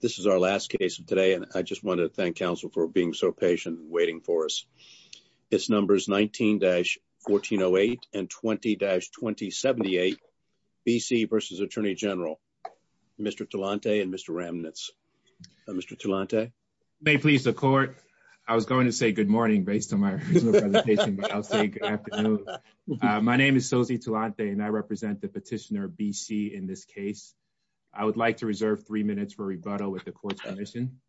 This is our last case of today and I just wanted to thank counsel for being so patient and waiting for us. This number is 19-1408 and 20-2078 BC v. Attorney General. Mr. Talante and Mr. Ramnitz. Mr. Talante. May it please the court. I was going to say good morning based on my presentation, but I'll say good afternoon. My name is Sophie Talante and I represent the petitioner BC in this case. I would like to reserve three minutes for rebuttal with the court's permission.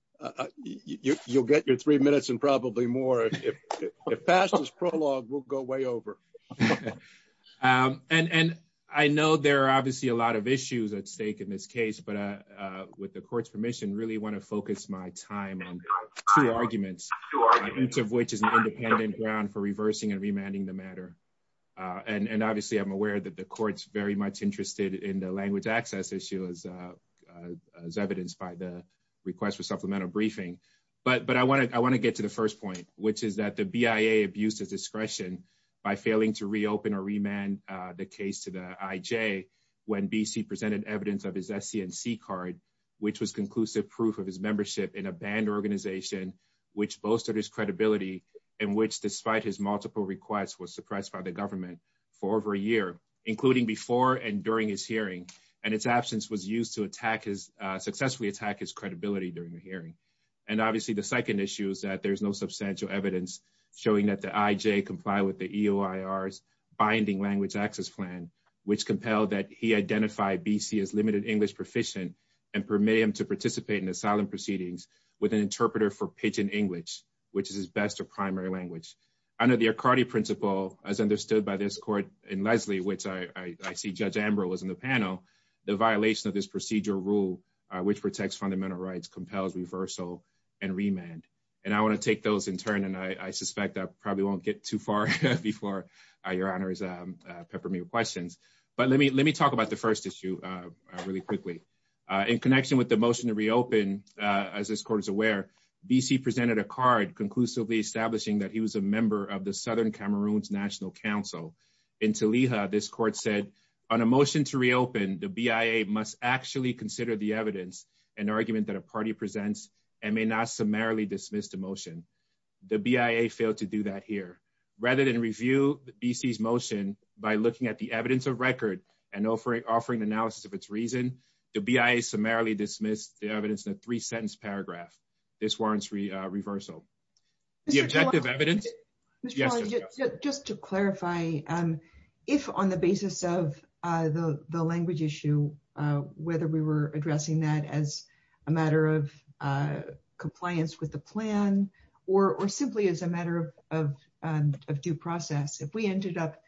You'll get your three minutes and probably more. The fastest prologue will go way over. And I know there are obviously a lot of issues at stake in this case, but with the court's permission, I really want to focus my time on two arguments, each of which is an independent ground for reversing and remanding the matter. And obviously I'm aware that the court's very much interested in the language access issue as evidenced by the request for supplemental briefing. But I want to get to the first point, which is that the BIA abused its discretion by failing to reopen or remand the case to the IJ when BC presented evidence of his SCNC card, which was conclusive proof of his membership in a banned organization, which boasted his credibility and which, despite his multiple requests, was suppressed by the government for over a year, including before and during his hearing. And its absence was used to attack his, successfully attack his credibility during the hearing. And obviously the second issue is that there's no substantial evidence showing that the IJ complied with the EOIR's binding language access plan, which compelled that he identify BC as limited English proficient and permit him to participate in asylum proceedings with an interpreter for pidgin English, which is his primary language. Under the ACARDI principle, as understood by this court in Leslie, which I see Judge Ambrose in the panel, the violation of this procedure rule, which protects fundamental rights, compels reversal and remand. And I want to take those in turn, and I suspect that probably won't get too far before your honors pepper me with questions. But let me, let me talk about the first issue really quickly. In connection with the motion to reopen, as this court is aware, BC presented a card conclusively establishing that he was a member of the Southern Cameroon's National Council. In Taliha, this court said on a motion to reopen, the BIA must actually consider the evidence and argument that a party presents and may not summarily dismiss the motion. The BIA failed to do that here. Rather than review BC's motion by looking at the evidence of record and offering analysis of its reason, the BIA summarily dismissed the evidence in a three sentence paragraph. This warrants reversal. The objective evidence. Just to clarify, if on the basis of the language issue, whether we were addressing that as a matter of compliance with the plan or simply as a matter of due process, if we ended up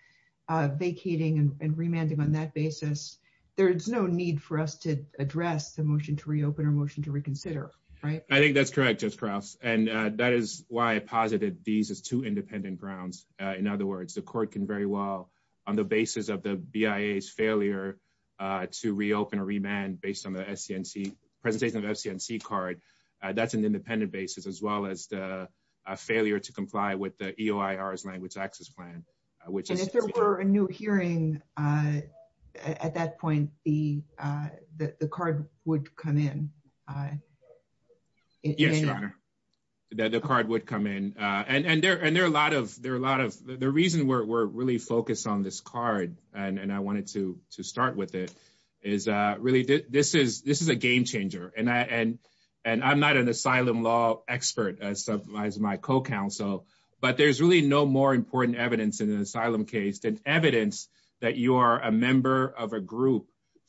vacating and remanding on that basis, there's no need for us to address the motion to reopen or motion to consider, right? I think that's correct, Judge Krause. And that is why I posited these as two independent grounds. In other words, the court can very well, on the basis of the BIA's failure to reopen or remand based on the STNC, presentation of the STNC card, that's an independent basis, as well as the failure to comply with the EOIR's language access plan. And if there were a new hearing at that point, the card would come in. Yes, Your Honor. The card would come in. And there are a lot of, the reason we're really focused on this card, and I wanted to start with it, is really this is a game changer. And I'm not an asylum law expert as my co-counsel, but there's really no more important evidence in an asylum case than evidence that you are a member of a group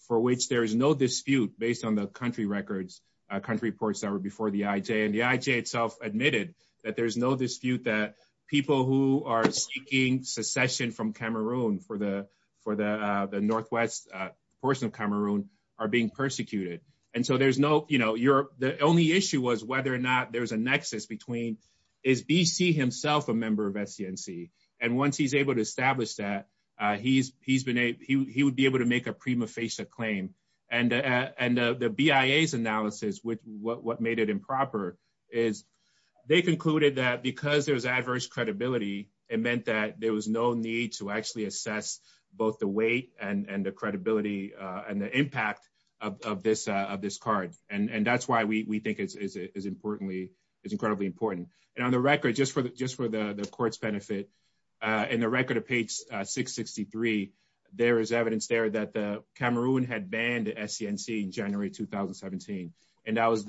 for which there is no dispute based on the country records, country reports that were before the IJ. And the IJ itself admitted that there's no dispute that people who are seeking secession from Cameroon for the Northwest portion of Cameroon are being persecuted. And so there's no, the only issue was whether or not there's a nexus between, is BC himself a member of STNC? And once he's able to establish that, he's been able, he would be able to make a prima facie claim. And the BIA's analysis with what made it improper is they concluded that because there's adverse credibility, it meant that there was no need to actually assess both the weight and the credibility and the impact of this card. And that's why we think it's incredibly important. And on the record, just for the court's benefit, in the record of page 663, there is evidence there that Cameroon had banned STNC in January 2017. And that was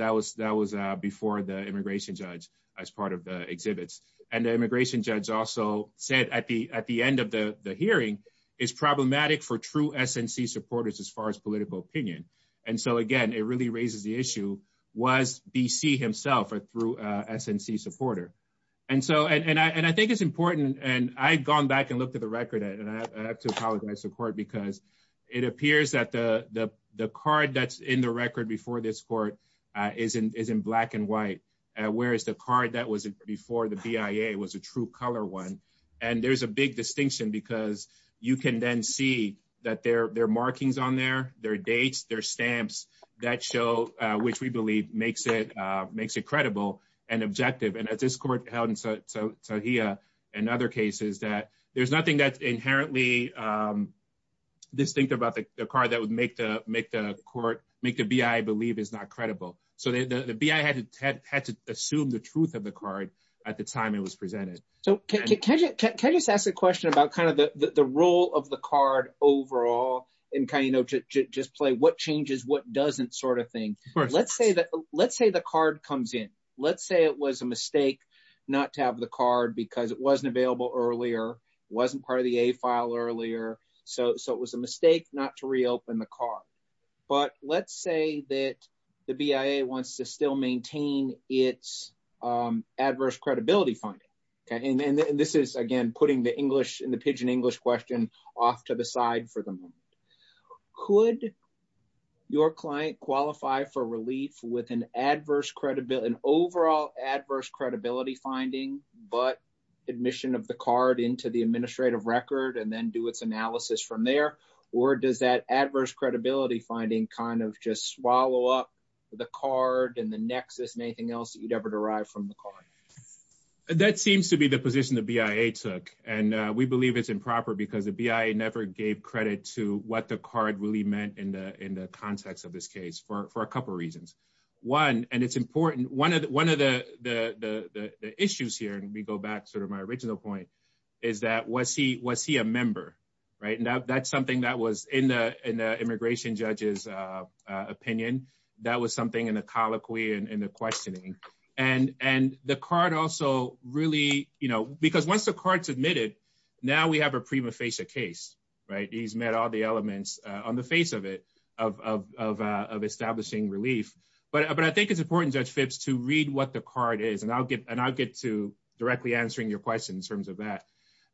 before the immigration judge as part of the exhibits. And the immigration judge also said at the end of the hearing, it's problematic for true issue, was BC himself a true SNC supporter. And so, and I think it's important, and I've gone back and looked at the record, and I have to apologize to the court because it appears that the card that's in the record before this court is in black and white, whereas the card that was before the BIA was a true color one. And there's a big distinction because you can then see that there are markings on there, there are dates, there are stamps that show, which we believe makes it credible and objective. And at this court held in Saudia and other cases, that there's nothing that's inherently distinct about the card that would make the court, make the BIA believe it's not credible. So the BIA had to assume the truth of the card at the time it was presented. So can I just ask a question about kind of the role of the card overall and kind of, you know, just play what changes, what doesn't sort of thing. Let's say that, let's say the card comes in. Let's say it was a mistake not to have the card because it wasn't available earlier, wasn't part of the A file earlier. So it was a mistake not to reopen the card. But let's say that the BIA wants to still maintain its adverse credibility finding. And this is again, putting the English and the Pidgin English question off to the side for the moment. Could your client qualify for relief with an adverse credibility, an overall adverse credibility finding, but admission of the card into the administrative record and then do its analysis from there? Or does that adverse credibility finding kind of just swallow up the card and the nexus and anything else that you'd ever derived from the card? That seems to be the position the BIA took. And we believe it's improper because the BIA never gave credit to what the card really meant in the context of this case for a couple of reasons. One, and it's important, one of the issues here, and we go back sort of my original point, is that was he a member, right? And that's something that was in the immigration judge's questioning. And the card also really, you know, because once the card's admitted, now we have a prima facie case, right? He's met all the elements on the face of it, of establishing relief. But I think it's important, Judge Phipps, to read what the card is. And I'll get to directly answering your question in terms of that.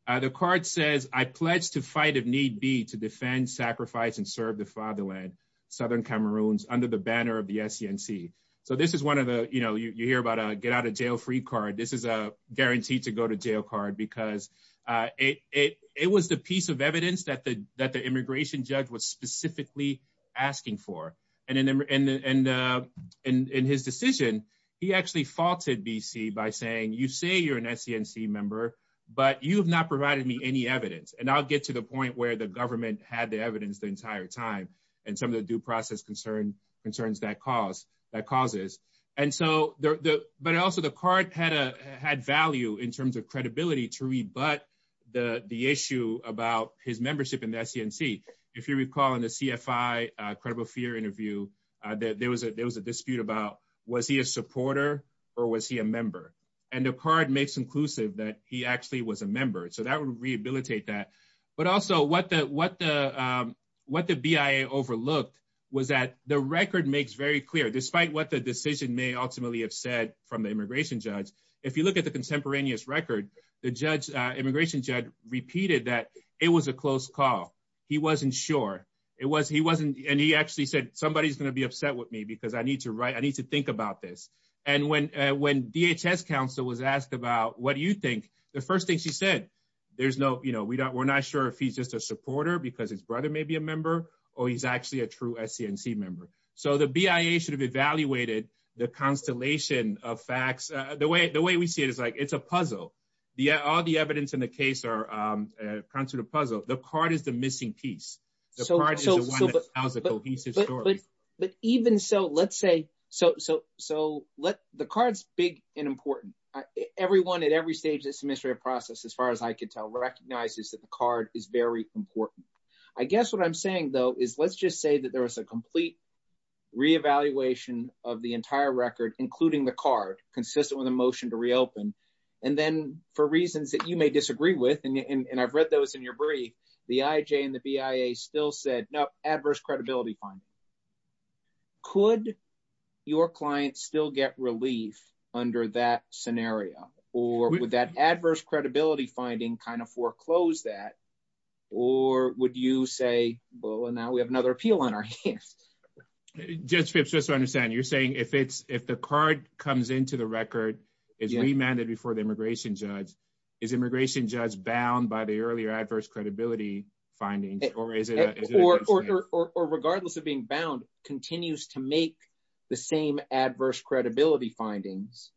The card says, I pledge to fight if need be to defend, sacrifice, and serve the fatherland, Southern Cameroons, under the banner of the SCNC. So this is one of the, you know, you hear about a get out of jail free card. This is a guaranteed to go to jail card because it was the piece of evidence that the immigration judge was specifically asking for. And in his decision, he actually faulted BC by saying, you say you're an SCNC member, but you have not provided me any evidence. And I'll get to the point where the government had the evidence the entire time. And some of the due process concerns that causes. But also the card had value in terms of credibility to rebut the issue about his membership in the SCNC. If you recall in the CFI credible fear interview, there was a dispute about was he a supporter or was he a member? And the card makes inclusive that he actually was a member. So that would rehabilitate that. But also what the BIA overlooked was that the record makes very clear, despite what the decision may ultimately have said from the immigration judge, if you look at the contemporaneous record, the immigration judge repeated that it was a close call. He wasn't sure. And he actually said, somebody's going to be upset with me because I need to think about this. And when DHS counsel was asked about what do you think? The first thing she said, we're not sure if he's just a supporter because his brother may be a member or he's actually a true SCNC member. So the BIA should have evaluated the constellation of facts. The way we see it is like it's a puzzle. All the evidence in the case comes to the puzzle. The card is the missing piece. The card is the one that's possible. He's his story. But even so, let's say, so let's, the card's big and important. Everyone at every stage of this administrative process, as far as I can tell, recognizes that the card is very important. I guess what I'm saying though, is let's just say that there was a complete reevaluation of the entire record, including the card, consistent with the motion to reopen. And then for reasons that you may disagree with, and I've read those in your brief, the IJ and the BIA still said, no, adverse credibility finding. Could your client still get relief under that scenario? Or would that adverse credibility finding kind of foreclose that? Or would you say, well, and now we have another appeal on our hands. Judge Fitch, just to understand, you're saying if the card comes into the record, is remanded before the immigration judge, is immigration judge bound by the earlier adverse credibility finding, or is it- Or regardless of being bound, continues to make the same adverse credibility findings.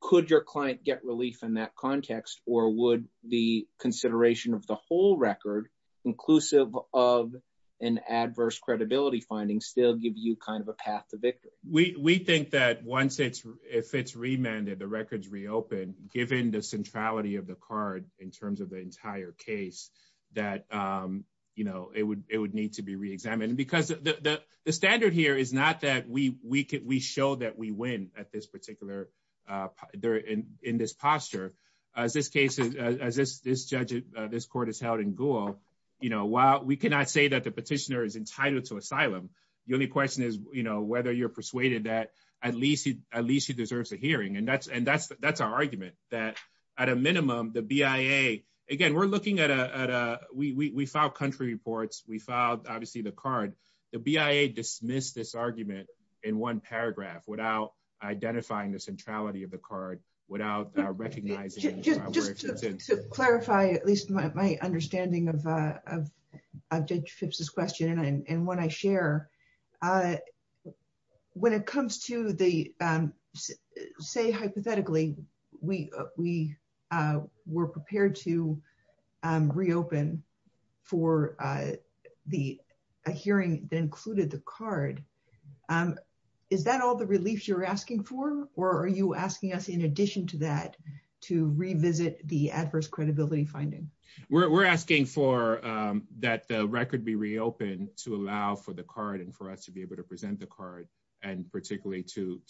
Could your client get relief in that context, or would the consideration of the whole record, inclusive of an adverse credibility finding, still give you kind of a path to victory? We think that once it's, if it's remanded, the record's reopened, given the centrality of the card, in terms of the entire case, that it would need to be reexamined. Because the standard here is not that we show that we win at this particular, in this posture. As this case, as this court is held in Gould, while we cannot say that the petitioner is entitled to asylum, the only question is whether you're persuaded that at least he deserves a hearing. And that's our argument, that at a minimum, the BIA, again, we're looking at a, we filed country reports, we filed, obviously, the card. The BIA dismissed this argument in one paragraph, without identifying the centrality of the card, without recognizing- Just to clarify, at least my understanding of and what I share, when it comes to the, say, hypothetically, we were prepared to reopen for a hearing that included the card, is that all the reliefs you're asking for? Or are you asking us, in addition to that, to revisit the adverse credibility finding? We're asking for that the record be reopened to allow for the card and for us to be able to present the card, and particularly to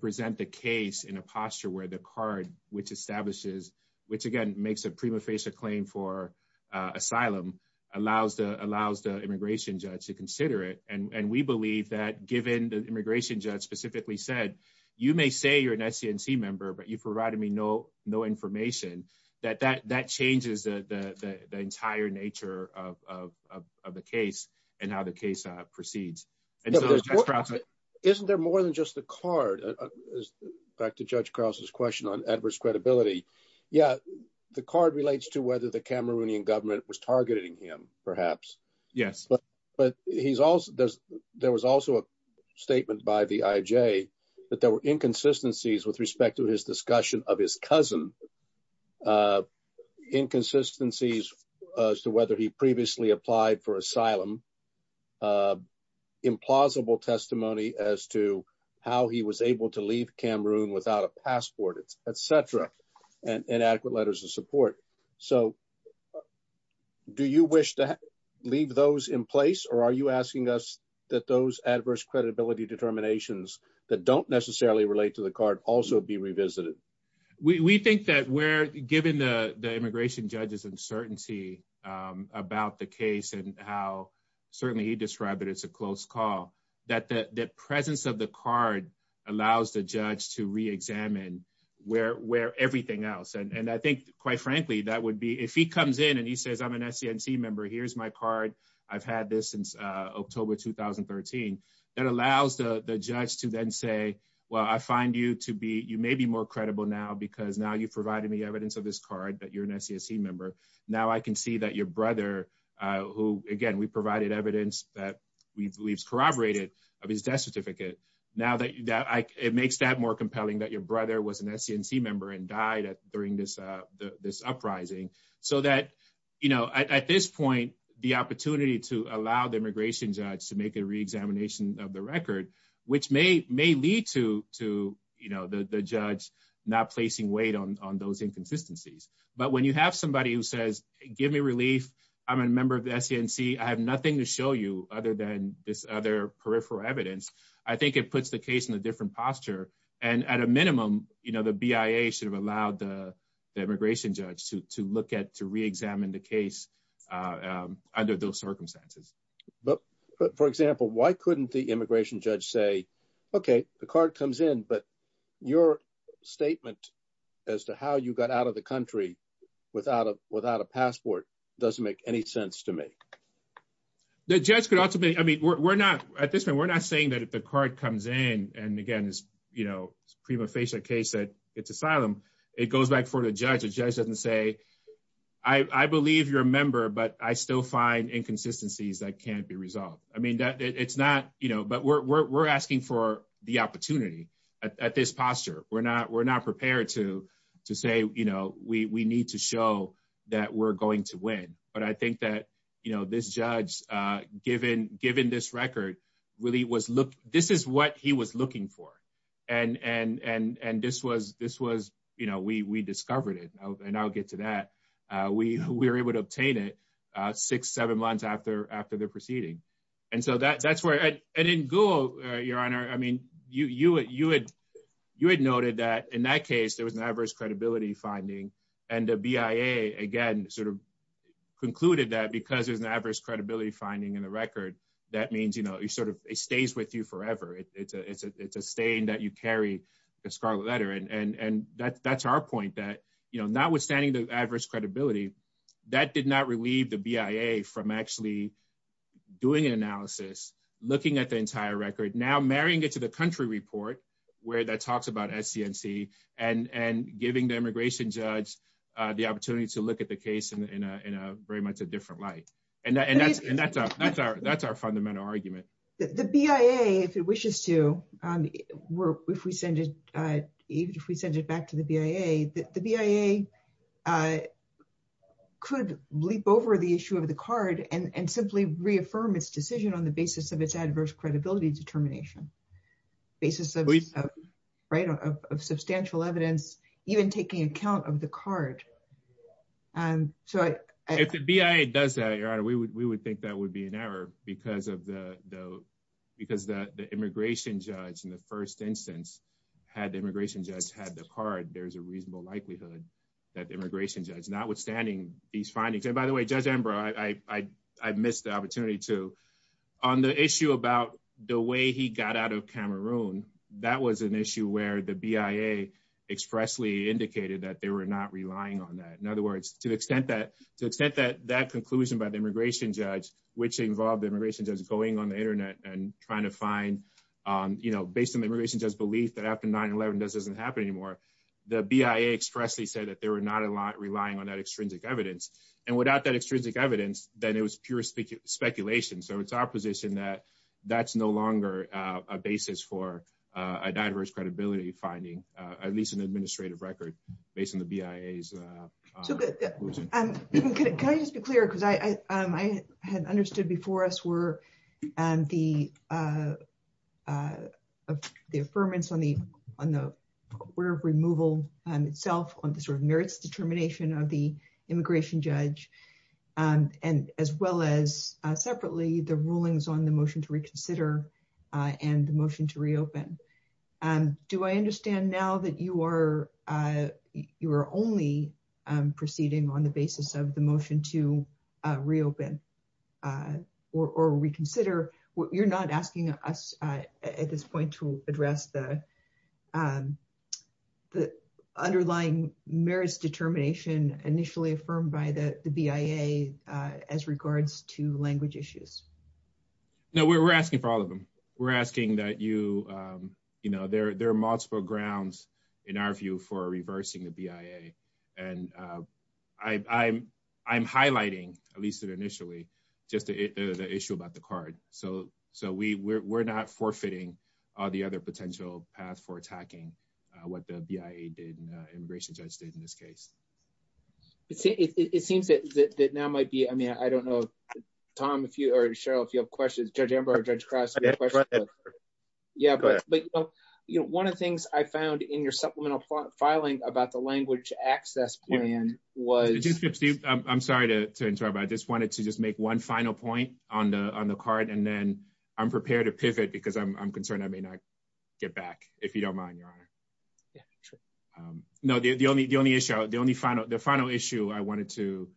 present the case in a posture where the card, which establishes, which again, makes a prima facie claim for asylum, allows the immigration judge to consider it. And we believe that given the immigration judge specifically said, you may say you're an SCNC but you provided me no information, that that changes the entire nature of the case and how the case proceeds. Isn't there more than just the card? Back to Judge Krause's question on adverse credibility. Yeah, the card relates to whether the Cameroonian government was targeting him, perhaps. Yes. But there was also a statement by the IJ that there were inconsistencies with respect to his discussion of his cousin, inconsistencies as to whether he previously applied for asylum, implausible testimony as to how he was able to leave Cameroon without a passport, et cetera, and inadequate letters of support. So do you wish to leave those in place? Or are you asking us that those adverse credibility determinations that don't necessarily relate to the card also be revisited? We think that given the immigration judge's uncertainty about the case and how certainly he described it as a close call, that the presence of the card allows the judge to re-examine everything else. And I think, quite frankly, that would be, if he comes in and he says, I'm an SCNC member, here's my card, I've had this since October 2013, that allows the judge to then say, well, I find you to be, you may be more credible now because now you've provided me evidence of this card that you're an SCNC member. Now I can see that your brother, who, again, we provided evidence that we've corroborated of his death certificate, now that it makes that more compelling that your brother was an SCNC member and died during this uprising. So that at this point, the opportunity to allow the immigration judge to make a re-examination of the record, which may lead to the judge not placing weight on those inconsistencies. But when you have somebody who says, give me relief, I'm a member of the SCNC, I have nothing to show you other than this other peripheral evidence, I think it puts the case in a different posture. And at a minimum, the BIA should have allowed the circumstances. But for example, why couldn't the immigration judge say, okay, the card comes in, but your statement as to how you got out of the country without a passport doesn't make any sense to me? The judge could also be, I mean, we're not, at this point, we're not saying that if the card comes in, and again, you know, prima facie case that it's asylum, it goes back for the judge, the judge doesn't say, I believe you're a member, but I still find inconsistencies that can't be resolved. I mean, it's not, you know, but we're asking for the opportunity at this posture. We're not prepared to say, you know, we need to show that we're going to win. But I think that, you know, this judge, given this record, this is what he was looking for. And this was, you know, we discovered it. And I'll get to that. We were able to obtain it six, seven months after the proceeding. And so that's where, and in Guo, Your Honor, I mean, you had noted that in that case, there was an adverse credibility finding. And the BIA, again, sort of concluded that because there's an adverse credibility finding in the record, that means, you know, it sort of stays with you forever. It's a stain that you carry the scarlet letter. And that's our point that, you know, notwithstanding the adverse credibility, that did not relieve the BIA from actually doing an analysis, looking at the entire record, now marrying it to the country report, where that talks about SCNC, and giving the immigration judge the opportunity to look at the case in a very much a different light. And that's our fundamental argument. The BIA, if it wishes to, if we send it back to the BIA, the BIA could leap over the issue of the card and simply reaffirm its decision on the basis of its adverse credibility determination, basis of, right, of substantial evidence, even taking account of the card. If the BIA does that, Your Honor, we would think that would be an error because of the, because the immigration judge in the first instance, had the immigration judge had the card, there's a reasonable likelihood that the immigration judge, notwithstanding these findings, and by the way, Judge Embraer, I missed the opportunity to, on the issue about the way he got out of Cameroon, that was an issue where the BIA expressly indicated that they were not relying on that. In other words, to the extent that, to the extent that that conclusion by the immigration judge, which involved the immigration judge going on the internet and trying to find, you know, based on the immigration judge's belief that after 9-11 this doesn't happen anymore, the BIA expressly said that they were not relying on that extrinsic evidence. And without that extrinsic evidence, then it was pure speculation. So it's our position that that's no longer a basis for a diverse credibility finding, at least an administrative record, based on the BIA's. So, can I just be clear? Because I had understood before us were the affirmance on the order of removal itself, on the sort of merits determination of the immigration judge, and as well as separately the rulings on the motion to reconsider and the motion to reopen. Do I understand now that you are only proceeding on the basis of the motion to reopen or reconsider? You're not asking us at this point to address the underlying merits determination initially affirmed by the BIA as regards to language issues? No, we're asking for all of them. We're asking that you, you know, there are multiple grounds in our view for reversing the BIA. And I'm highlighting, at least initially, just the issue about the card. So, we're not forfeiting all the other potential paths for attacking what the BIA did and the immigration judge did in this case. It seems that now might be, I mean, I don't know, Tom, if you or Cheryl, if you have questions, Judge Ember or Judge Cross. Yeah, but one of the things I found in your supplemental filing about the language access plan was... I'm sorry to interrupt. I just wanted to just one final point on the card and then I'm prepared to pivot because I'm concerned I may not get back, if you don't mind, Your Honor. Yeah, sure. No, the only issue, the final issue I wanted to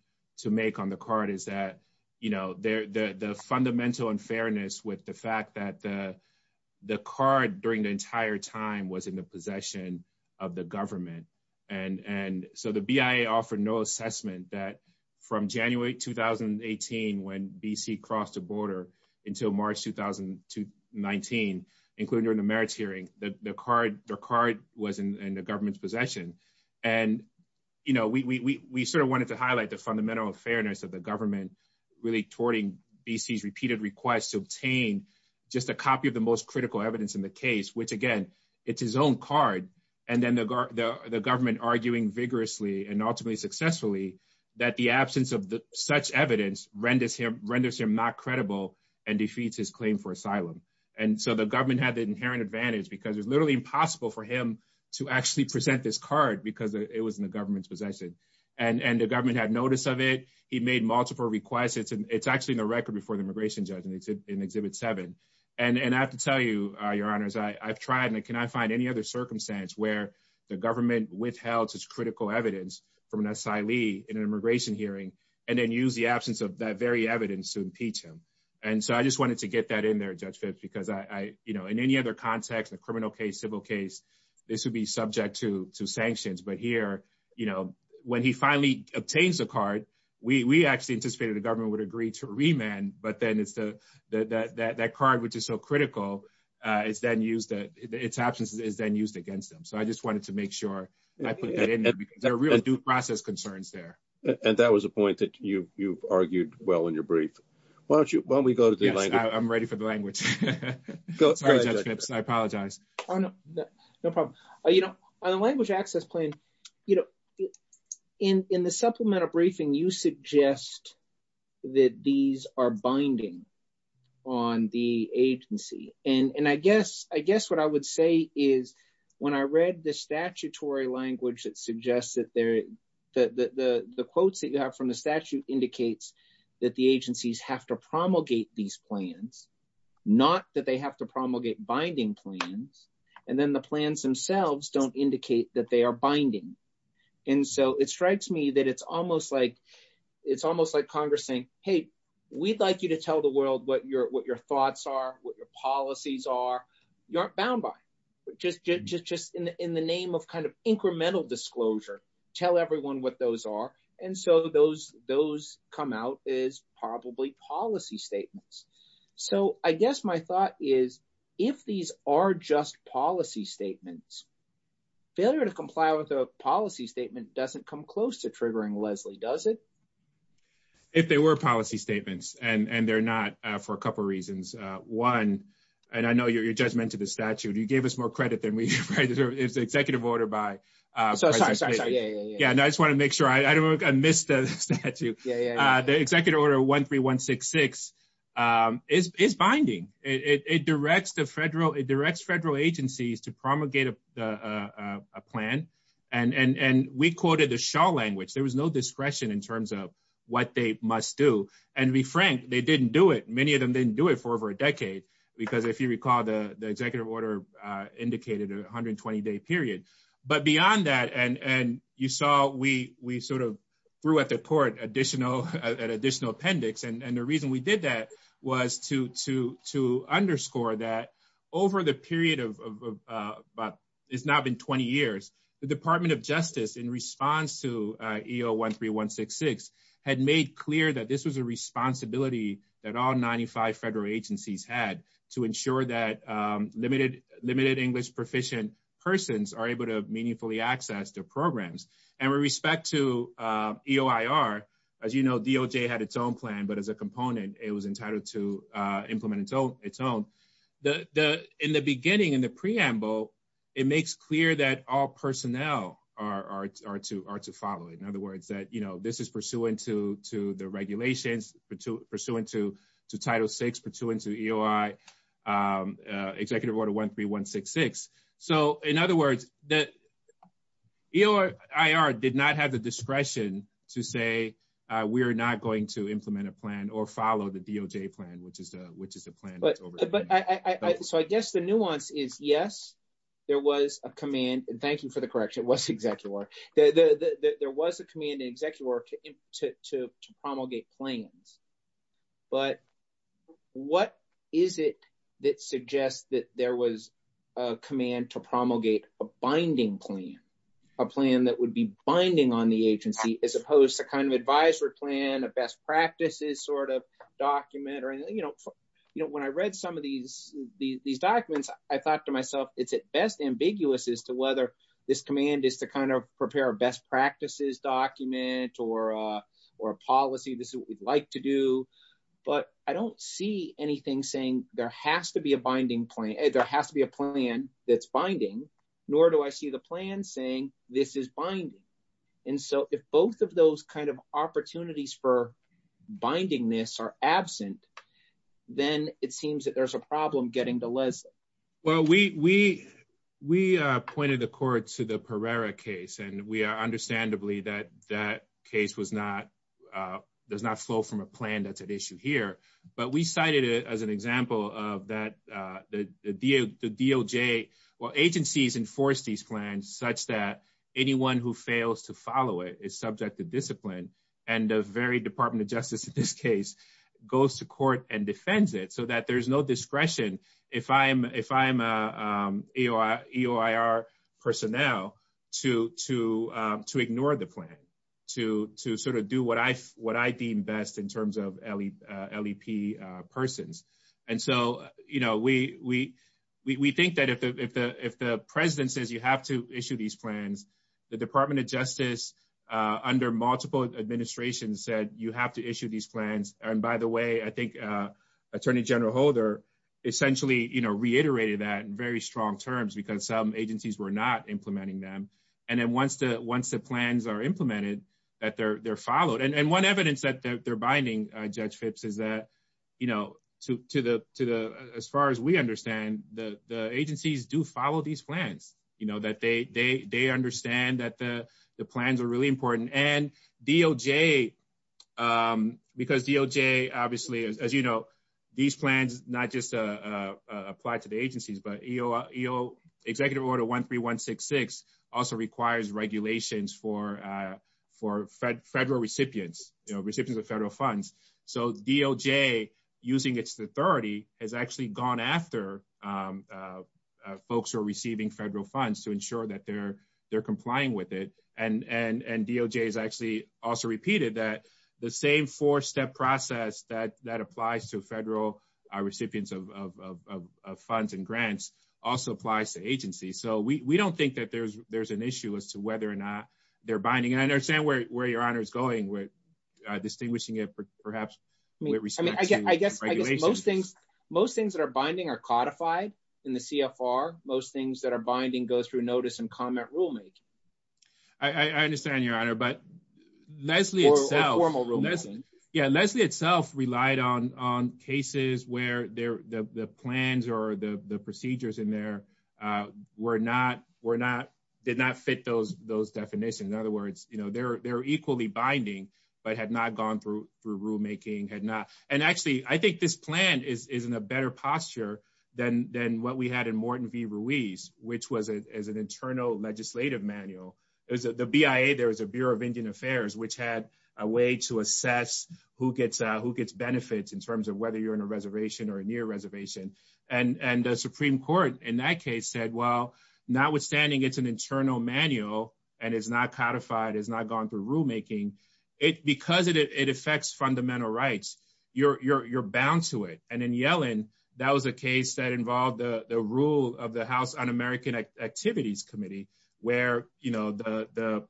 make on the card is that, you know, the fundamental unfairness with the fact that the card during the entire time was in the possession of the government. And so the BIA offered no assessment that from January 2018 when BC crossed the border until March 2019, including during the merits hearing, the card was in the government's possession. And, you know, we sort of wanted to highlight the fundamental fairness of the government really towarding BC's repeated requests to obtain just a copy of the most and then the government arguing vigorously and ultimately successfully that the absence of such evidence renders him not credible and defeats his claim for asylum. And so the government had the inherent advantage because it's literally impossible for him to actually present this card because it was in the government's possession. And the government had notice of it. He made multiple requests. It's actually in the record before the immigration judge in exhibit seven. And I have to tell you, Your Honors, I've tried and cannot find any other circumstance where the government withheld such critical evidence from an asylee in an immigration hearing and then use the absence of that very evidence to impeach him. And so I just wanted to get that in there, Judge Fitch, because I, you know, in any other context, a criminal case, civil case, this would be subject to sanctions. But here, you know, when he finally obtains the card, we actually anticipated the government would agree to remand. But then that card, which is so critical, its absence is then used against him. So I just wanted to make sure I put that in there because there are really due process concerns there. And that was a point that you argued well in your brief. Why don't we go to the language? I'm ready for the language. I apologize. No problem. You know, on the language access claim, you know, in the supplemental briefing, you suggest that these are binding on the agency. And I guess what I would say is when I read the statutory language, it suggests that the quotes that you have from the statute indicates that the agencies have to promulgate these plans, not that they have to promulgate binding plans. And then the plans themselves don't indicate that they are binding. And so it strikes me that it's almost like Congress saying, hey, we'd like you to tell the world what your thoughts are, what your policies are. You aren't bound by it. Just in the name of kind of incremental disclosure, tell everyone what those are. And so those come out as probably policy statements. So I guess my thought is if these are just policy statements, failure to comply with a Leslie, does it? If they were policy statements, and they're not for a couple of reasons. One, and I know you just mentioned the statute. You gave us more credit than we deserve. It's the executive order by. So sorry. Yeah. Yeah. And I just want to make sure I don't I missed the statute. Yeah. The executive order 13166 is binding. It directs the federal, it directs federal agencies to promulgate a plan. And we quoted the shawl language. There was no discretion in terms of what they must do. And to be frank, they didn't do it. Many of them didn't do it for over a decade. Because if you recall, the executive order indicated a 120 day period. But beyond that, and you saw, we sort of threw at the court additional appendix. And the reason we did that was to underscore that over the period of but it's not been 20 years, the Department of Justice in response to EO 13166 had made clear that this was a responsibility that all 95 federal agencies had to ensure that limited English proficient persons are able to meaningfully access to programs. And with respect to EOIR, as you know, DOJ had its own plan. But as a component, it was entitled to implement its own. In the beginning, in the preamble, it makes clear that all personnel are to follow it. In other words, that, you know, this is pursuant to the regulations, pursuant to Title VI, pursuant to EOIR Executive Order 13166. So in other words, that EOIR did not have the discretion to say, we're not going to implement a plan or follow the DOJ plan, which is the plan. But I guess the nuance is, yes, there was a command. And thank you for the correction, it was Executive Order. There was a command in Executive Order to promulgate plans. But what is it that suggests that there was a command to promulgate a binding plan, a plan that would be binding on the agency, as opposed to kind of an advisory plan, a best practices sort of document or, you know, when I read some of these documents, I thought to myself, it's at best ambiguous as to whether this command is to kind of prepare a best but I don't see anything saying there has to be a binding plan, there has to be a plan that's binding, nor do I see the plan saying this is binding. And so if both of those kind of opportunities for binding this are absent, then it seems that there's a problem getting the lesson. Well, we, we, we pointed the court to the Pereira case, and we are understandably that that case was not, does not flow from a plan that's at issue here. But we cited it as an example of that the DOJ, well, agencies enforce these plans such that anyone who fails to follow it is subject to discipline. And the very Department of Justice in this case, goes to court and defends it so that there's no discretion, if I'm, if I'm a EOIR personnel, to, to, to ignore the plan, to, to sort of do what I, what I deem best in terms of LEP persons. And so, you know, we, we, we think that if the, if the President says you have to issue these plans, the Department of Justice, under multiple administrations said you have to issue these plans. And by the way, I think Attorney General Holder essentially, you know, reiterated that in very strong terms, because some agencies were not implementing them. And then once the, once the plans are implemented, that they're, they're followed. And, and one evidence that they're binding Judge Phipps is that, you know, to, to the, to the, as far as we understand, the, the agencies do follow these plans, you know, that they, they, they understand that the, the plans are really important. And DOJ, because DOJ obviously, as you know, these plans not just apply to the agencies, but EO, EO, Executive Order 13166 also requires regulations for, for federal recipients, you know, recipients of federal funds. So DOJ, using its authority, has actually gone after folks who are receiving federal funds to ensure that they're, they're complying with it. And, and DOJ has actually also repeated that the same four-step process that, that applies to federal recipients of, of, of, of funds and grants also applies to agencies. So we, we don't think that there's, there's an issue as to whether or not they're binding. And I understand where, where your honor is going with distinguishing it, perhaps. I mean, I guess, I guess most things, most things that are binding are codified in the CFR. Most things that are binding go through comment rulemaking. I understand your honor, but Leslie, yeah, Leslie itself relied on, on cases where the plans or the procedures in there were not, were not, did not fit those, those definitions. In other words, you know, they're, they're equally binding, but had not gone through, through rulemaking, had not. And actually I think this plan is, is in a better posture than, than what we had in Morton v. Ruiz, which was as an internal legislative manual, is that the BIA, there was a Bureau of Indian Affairs, which had a way to assess who gets, who gets benefits in terms of whether you're in a reservation or a near reservation. And, and the Supreme Court in that case said, well, notwithstanding it's an internal manual and it's not codified, it's not gone through rulemaking, it, because it, it affects fundamental rights, you're, you're, you're bound to it. And in Yellen, that was a case that involved the, the rule of the House Un-American Activities Committee, where, you know, the, the,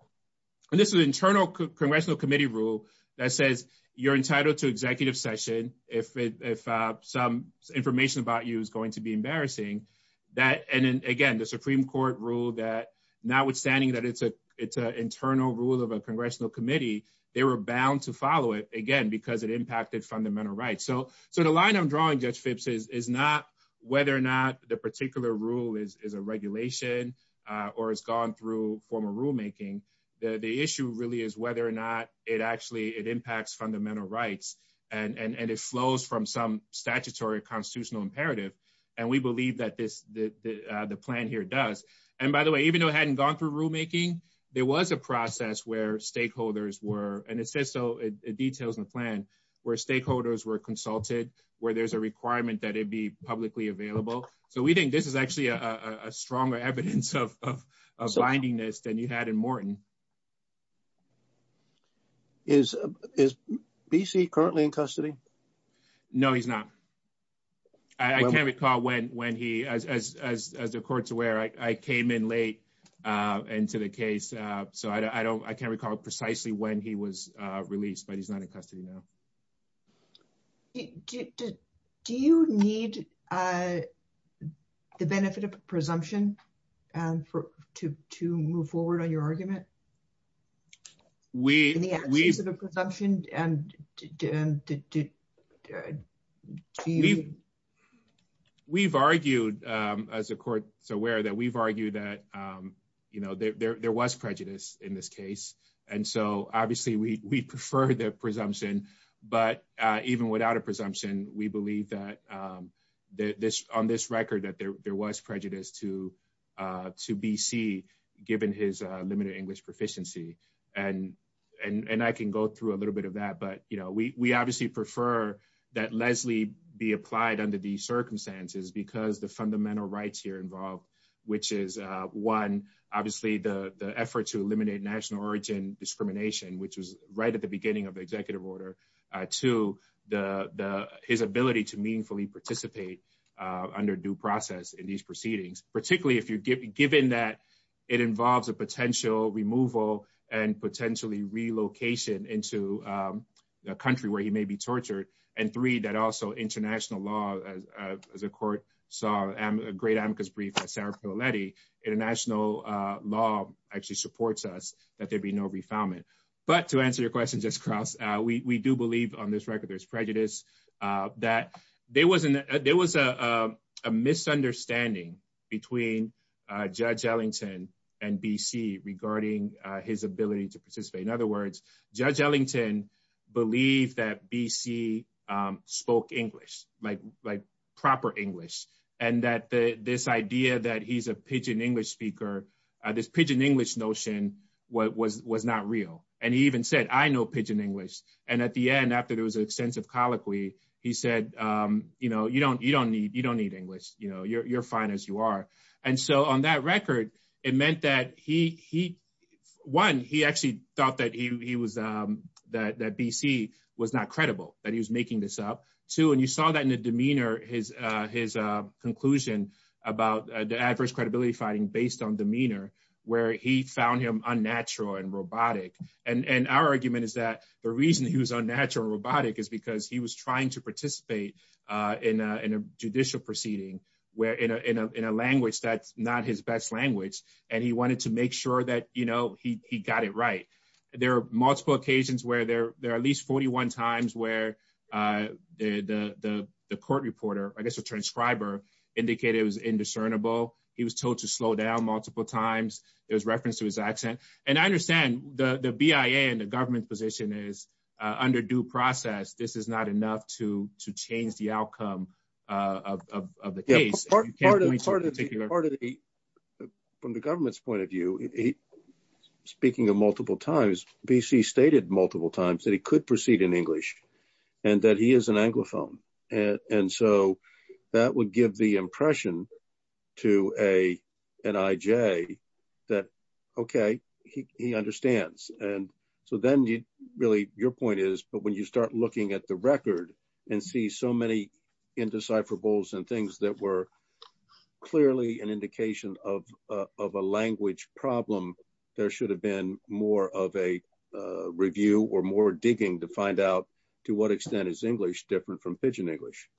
and this is an internal congressional committee rule that says you're entitled to executive session if, if, if some information about you is going to be embarrassing, that, and then again, the Supreme Court ruled that notwithstanding that it's a, it's an internal rule of a congressional committee, they were bound to follow it, again, because it impacted fundamental rights. So, so the line I'm drawing, Judge Phipps, is, is not whether or not the particular rule is, is a regulation or has gone through formal rulemaking. The, the issue really is whether or not it actually, it impacts fundamental rights and, and, and it flows from some statutory or constitutional imperative. And we believe that this, the, the, the plan here does. And by the way, even though it hadn't gone through rulemaking, there was a process where stakeholders were, and it says so, it details in the plan, where stakeholders were consulted, where there's a requirement that it be publicly available. So we think this is actually a, a, a stronger evidence of, of, of binding this than you had in Morton. Is, is BC currently in custody? No, he's not. I can't recall when, when he, as, as, as the court's aware, I, I came in late into the case. So I don't, I can't recall precisely when he was released, but he's not in custody now. Do, do, do you need the benefit of presumption and for, to, to move forward on your argument? We, we, the benefit of presumption and, Dan, did, did, did he? We've argued, as the court's aware, that we've argued that, you know, there, there, there was prejudice in this case. And so obviously we, we prefer the presumption, but even without a presumption, we believe that this, on this record, that there, there was prejudice to, to BC given his limited English proficiency. And, and, and I can go through a couple of examples, but we, we obviously prefer that Leslie be applied under these circumstances because the fundamental rights here involved, which is one, obviously the, the effort to eliminate national origin discrimination, which was right at the beginning of the executive order. Two, the, the, his ability to meaningfully participate under due process in these proceedings, particularly if you're given, given that it involves a potential removal and potentially relocation into the country where he may be tortured. And three, that also international law, the court saw a great amicus brief by Sarah Fialetti, international law actually supports us that there'd be no refoundment. But to answer your question, just cross, we, we do believe on this record, there's prejudice that there wasn't, there was a, a misunderstanding between Judge Ellington and BC regarding his ability to participate. In other words, Judge Ellington believed that BC spoke English, like, like proper English. And that the, this idea that he's a pidgin English speaker, this pidgin English notion was, was, was not real. And he even said, I know pidgin English. And at the end, after there was an extensive colloquy, he said, you know, you don't, you don't need, you don't need English, you know, you're, you're fine as you are. And so on that record, it meant that he, he, one, he actually thought that he was, that, that BC was not credible, that he was making this up. Two, and you saw that in the demeanor, his, his conclusion about the adverse credibility finding based on demeanor, where he found him unnatural and robotic. And, and our argument is that the reason he was unnatural and robotic is because he was trying to participate in a, in a judicial proceeding where, in a, in a, in a language that's not his best language. And he wanted to make sure that, you know, he, he got it right. There are multiple occasions where there, there are at least 41 times where the, the, the court reporter, I guess a transcriber indicated it was indiscernible. He was told to slow down multiple times. There's reference to accent. And I understand the, the BIA and the government position is under due process. This is not enough to, to change the outcome of the case. Part of the, part of the, part of the, from the government's point of view, speaking of multiple times, BC stated multiple times that he could proceed in English and that he is an Anglophone. And so that would give the impression to a NIJ that, okay, he, he understands. And so then you really, your point is, but when you start looking at the record and see so many indecipherables and things that were clearly an indication of, of a language problem, there should have been more of a review or more digging to find out to what extent is English different from pidgin English.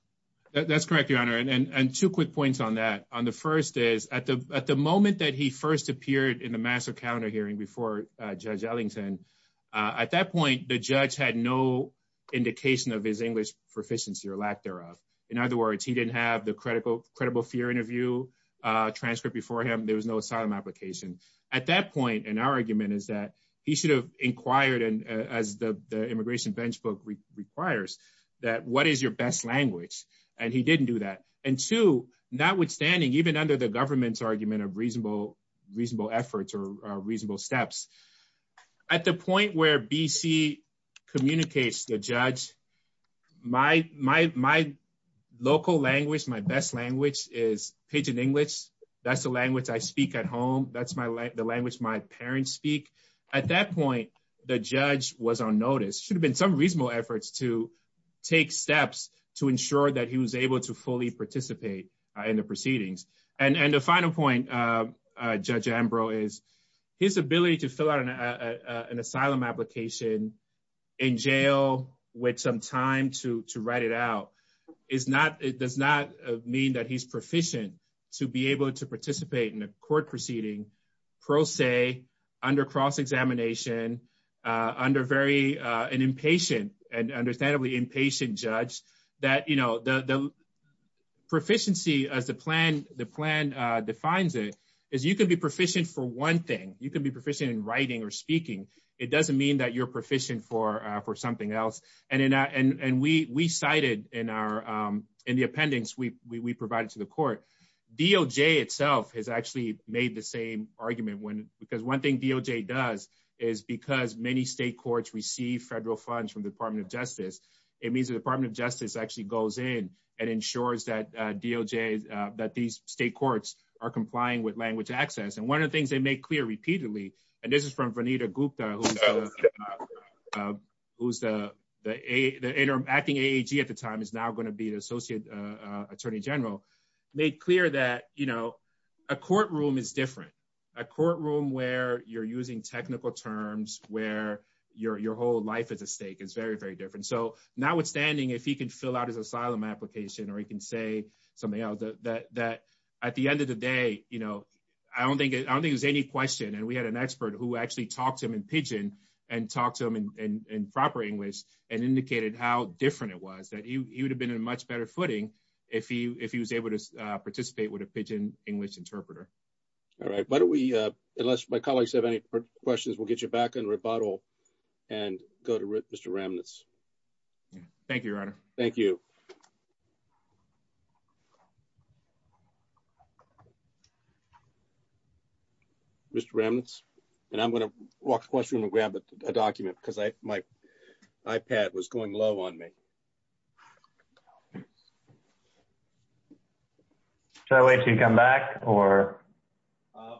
That's correct, your honor. And, and two quick points on that on the first is at the, at the moment that he first appeared in the master calendar hearing before Judge Ellington, at that point, the judge had no indication of his English proficiency or lack thereof. In other words, he didn't have the critical credible fear interview transcript before him. There was no asylum application at that point. And our argument is that he should have inquired. And as the language, and he didn't do that. And two, notwithstanding, even under the government's argument of reasonable, reasonable efforts or reasonable steps at the point where BC communicates the judge, my, my, my local language, my best language is pidgin English. That's the language I speak at home. That's my language, the language my parents speak. At that point, the judge was on notice should have been some reasonable efforts to take steps to ensure that he was able to fully participate in the proceedings. And the final point, Judge Ambrose is his ability to fill out an asylum application in jail with some time to, to write it out is not, it does not mean that he's proficient to be able to participate in a court proceeding, pro se, under cross examination, under very, an impatient and understandably impatient judge that, you know, the proficiency of the plan, the plan defines it is you can be proficient for one thing, you can be proficient in writing or speaking, it doesn't mean that you're proficient for for something else. And in and we cited in our, in the appendix, we actually made the same argument when because one thing DOJ does is because many state courts receive federal funds from the Department of Justice, it means the Department of Justice actually goes in and ensures that DOJ, that these state courts are complying with language access. And one of the things they make clear repeatedly, and this is from Vanita Gupta, who's, who's the interim acting AAG at the time is now going to be the Associate Attorney General, made clear that, you know, a courtroom is different, a courtroom where you're using technical terms, where your whole life is at stake, it's very, very different. So now withstanding, if he can fill out his asylum application, or he can say something else, that at the end of the day, you know, I don't think I don't think there's any question. And we had an expert who actually talked to him in Pidgin, and talked to him in proper English, and indicated how different it was that you would have been in much better footing. If he if he was able to participate with a Pidgin English interpreter. All right, why don't we, unless my colleagues have any questions, we'll get you back in rebuttal and go to Mr. Remnitz. Thank you, Your Honor. Thank you. Mr. Remnitz, and I'm going to walk the question and grab a document because I my iPad was going low on me. So wait to come back or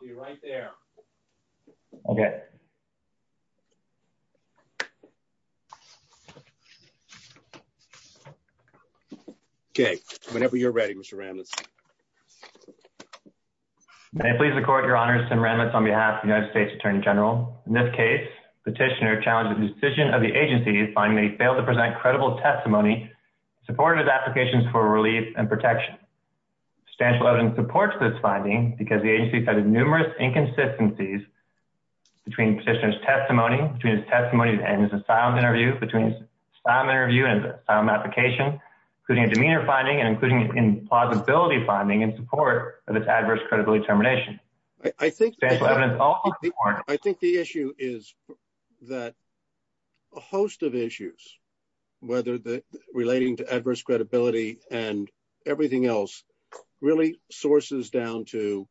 be right there. Okay. Okay, whenever you're ready, Mr. Remnitz. May I please record Your Honor, Senator Remnitz on behalf of the United States Attorney General. In this case, petitioner challenged the decision of the agency finding they failed to present credible testimony, supported his applications for relief and protection. Substantial evidence supports this finding because the agency has had numerous inconsistencies between petitioner's testimony, between his testimony and his asylum interview, between his asylum interview and his asylum application, including a demeanor finding and including implausibility finding in support of this adverse credibility determination. I think I think the issue is that a host of issues, whether relating to adverse credibility and everything else, really sources down to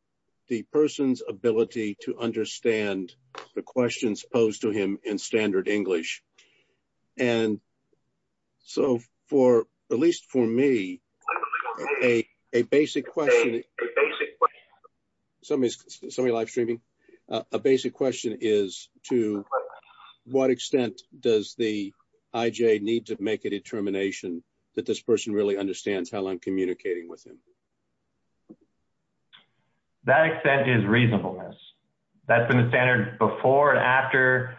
the person's ability to understand the questions posed to him in standard English. And so for at least for me, a basic question, a basic question, a basic question is to what extent does the IJ need to make a determination that this person really understands how I'm communicating with him. That extent is reasonableness. That's been the standard before and after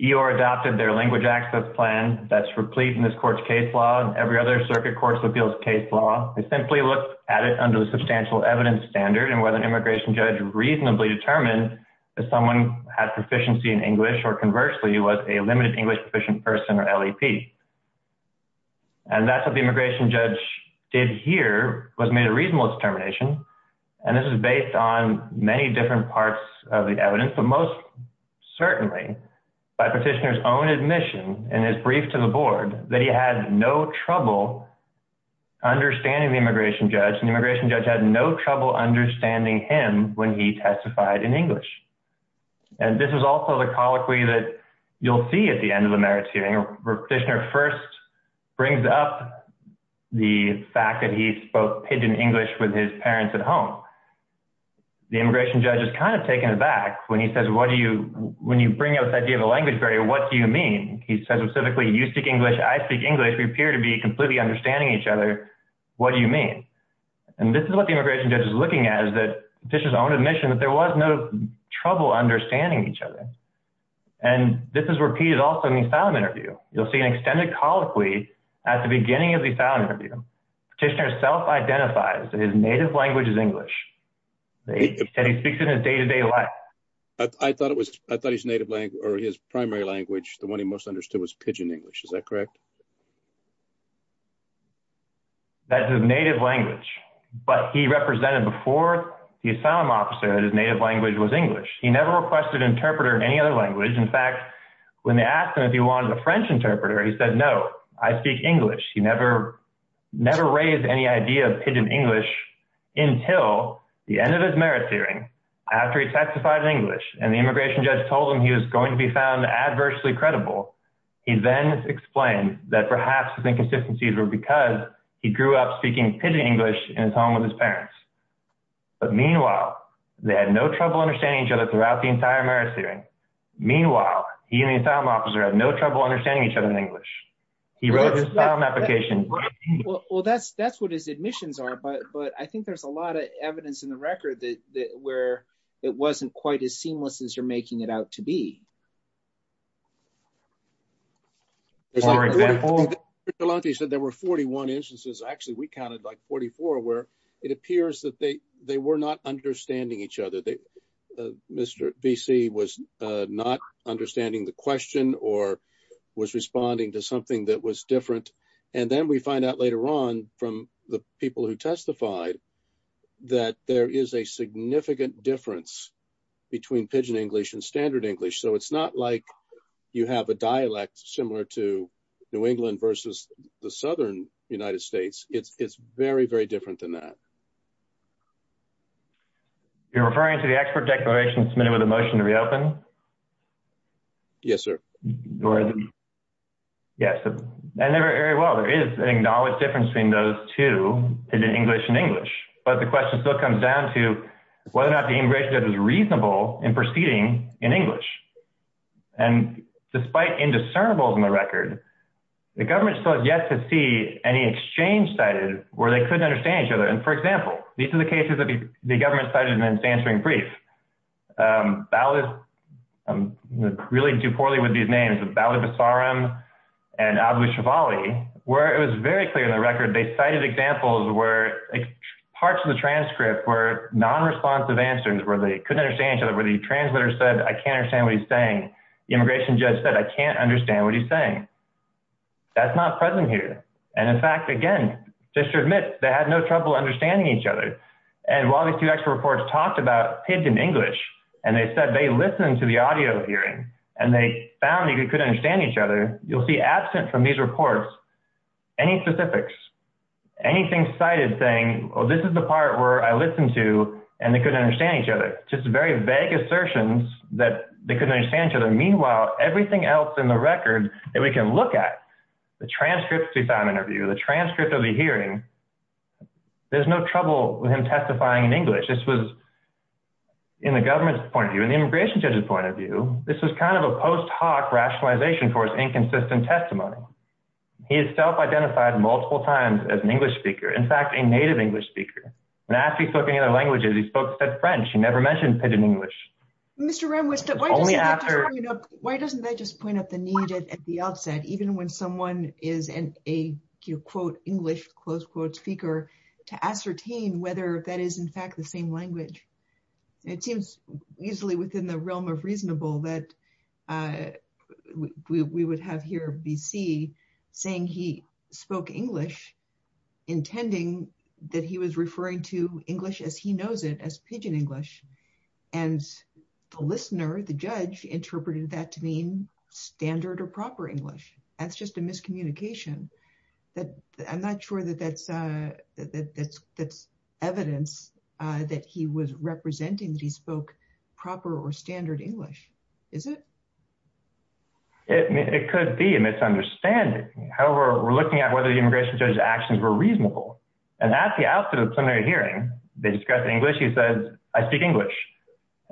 EOIR adopted their language access plan that's replete in this court's case law and every other circuit appeals case law. They simply looked at it under the substantial evidence standard and whether immigration judge reasonably determined that someone had proficiency in English or conversely was a limited English proficient person or LEP. And that's what the immigration judge did here was made a reasonable determination. And this is based on many different parts of the evidence, but most certainly by petitioner's own admission in his brief to the board that he had no trouble understanding the immigration judge and the immigration judge had no trouble understanding him when he testified in English. And this is also the colloquy that you'll see at the end of the merits hearing where petitioner first brings up the fact that he spoke pidgin English with his parents at home. The immigration judge is kind of taken aback when he says, what do you, when you bring up that idea of a language barrier, what do you mean? He says specifically, you speak English, I speak English. We appear to be completely understanding each other. What do you mean? And this is what the immigration judge is looking at is that this is his own admission that there was no trouble understanding each other. And this is where he is also in the asylum interview. You'll see an extended colloquy at the beginning of the asylum interview. Petitioner self-identifies that his native language is English. He said he speaks it in his day-to-day life. I thought it was, I thought his native language or his primary language, the one he most understood was pidgin English. Is that correct? That's his native language, but he represented before the asylum officer that his native language was English. He never requested interpreter in any other language. In fact, when they asked him if he wanted a French interpreter, he said, no, I speak English. He never, never raised any idea of pidgin English until the end of his merits hearing after he testified in English and the immigration judge told him he was going to be found adversely credible. He then explained that perhaps his inconsistencies were because he grew up speaking pidgin English in his home with his parents. But meanwhile, they had no trouble understanding each other throughout the entire merits hearing. Meanwhile, he and the asylum officer had no trouble understanding each other in English. He wrote his asylum application. Well, that's, that's what his admissions are, but, but I think there's a it wasn't quite as seamless as you're making it out to be. He said there were 41 instances. Actually, we counted like 44 where it appears that they, they were not understanding each other. They, Mr. VC was not understanding the question or was responding to something that was different. And then we find out later on from the people who testified that there is a significant difference between pidgin English and standard English. So it's not like you have a dialect similar to New England versus the Southern United States. It's, it's very, very different than that. You're referring to the expert declaration submitted with a motion to reopen. Yes, sir. Yes. And there is an acknowledged difference between those two English and English, but the question still comes down to whether or not the integration that was reasonable in proceeding in English. And despite indiscernibles in the record, the government still has yet to see any exchange that is where they couldn't understand each other. And for example, these are the cases that the government cited in answering brief. Um, I'm really do poorly with these names, but that was the Sauron and abolition, Bali, where it was very clear in the record. They cited examples where parts of the transcript were non-responsive answers where they couldn't understand each other. Whether you translator said, I can't understand what he's saying. Immigration just said, I can't understand what he's saying. That's not present here. And in fact, again, just to admit they had no trouble understanding each other. And while these two extra reports talked about kids in English, and they said they listened to the audio hearing and they found that you couldn't understand each other. You'll see absent from these reports, any specifics, anything cited saying, well, this is the part where I listened to, and they couldn't understand each other. Just a very vague assertions that they couldn't understand each other. Meanwhile, everything else in the record that we can look at the transcripts, we found interview the transcript of the hearing. There's no trouble with him testifying in English. This was in the government's point of view and the immigration judge's point of view. This was kind of a post hoc rationalization for his inconsistent testimony. He has self-identified multiple times as an English speaker. In fact, a native English speaker. When asked if he spoke any other languages, he spoke French. He never mentioned pidgin English. Why doesn't that just point up the need at the outset, even when someone is an English speaker, to ascertain whether that is in fact the same language? It seems easily within the realm of reasonable that we would have here BC saying he spoke English, intending that he was referring to English as he knows it as pidgin English. The listener, the judge, interpreted that to mean standard or proper English. That's just a miscommunication. I'm not sure that that's evidence that he was representing that he spoke proper or standard English. Is it? It could be a misunderstanding. However, we're looking at whether the immigration judge's actions were reasonable. At the outset of the hearing, he said, I speak English.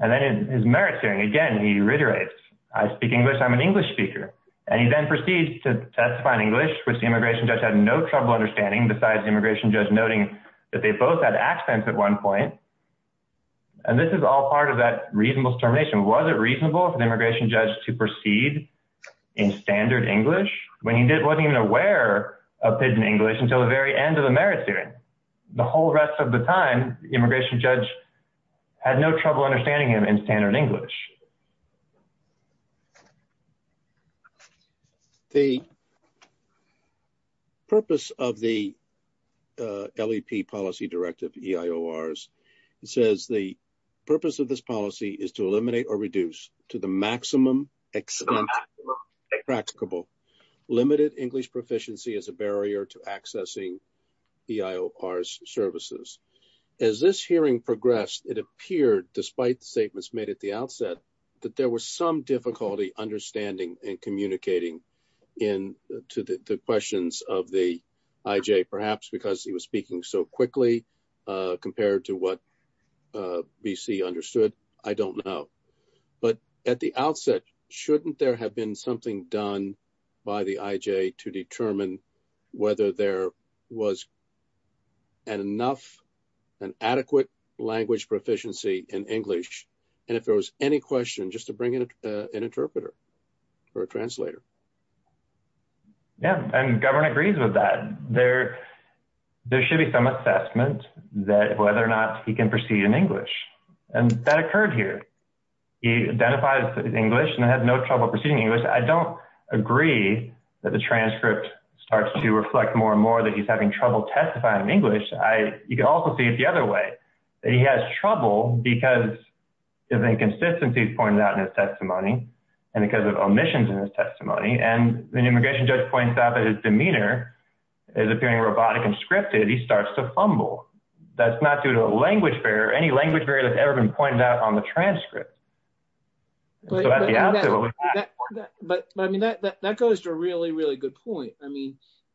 His merits hearing, he reiterates, I speak English, I'm an English speaker. He then proceeds to testify in English, which the immigration judge had no trouble understanding, besides the immigration judge noting that they both had accents at one point. This is all part of that reasonable determination. Was it reasonable for the immigration judge to proceed in standard English when he wasn't even aware of pidgin English until the very end of the merits hearing? The whole rest of the time, the immigration judge had no trouble understanding him in standard English. The purpose of the LEP policy directive EIORs, it says the purpose of this policy is to eliminate or reduce to the maximum extent practicable. Limited English proficiency is a barrier to progress. Despite the statements made at the outset, there was some difficulty understanding and communicating to the questions of the IJ, perhaps because he was speaking so quickly compared to what BC understood. I don't know. At the outset, shouldn't there have been something done by the IJ to determine whether there was an adequate language proficiency in English, and if there was any question, just to bring in an interpreter or a translator? Yeah, and the governor agrees with that. There should be some assessment that whether or not he can proceed in English, and that occurred here. He identifies as English and had no trouble proceeding in English. I don't agree that the transcript starts to reflect more and more that he's having trouble testifying in English. You can also see it the other way. He has trouble because of inconsistencies pointed out in his testimony and because of omissions in his testimony, and the immigration judge points out that his demeanor is appearing robotic and scripted. He starts to fumble. That's not due to a language barrier or any language barrier that's pointed out on the transcript. That goes to a really, really good point.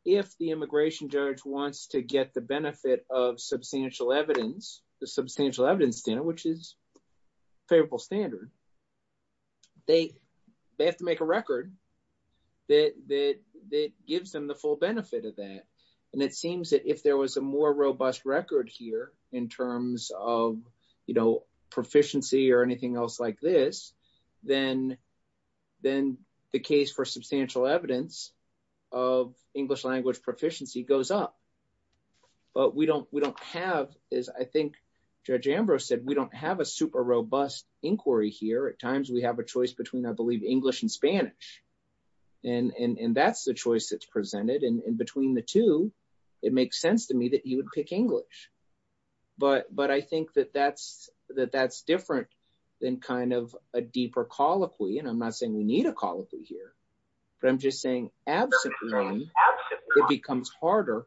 If the immigration judge wants to get the benefit of substantial evidence, the substantial evidence, which is favorable standard, they have to make a record that gives them the full benefit of that, and it seems that if there was a more robust record here in terms of proficiency or anything else like this, then the case for substantial evidence of English language proficiency goes up, but we don't have, as I think Judge Ambrose said, we don't have a super robust inquiry here. At times, we have a choice between, I believe, English and Spanish, and that's the choice that's presented, and between the two, it makes sense to me that he would pick English, but I think that that's different than kind of a deeper colloquy, and I'm not saying we need a colloquy here, but I'm just saying, absolutely, it becomes harder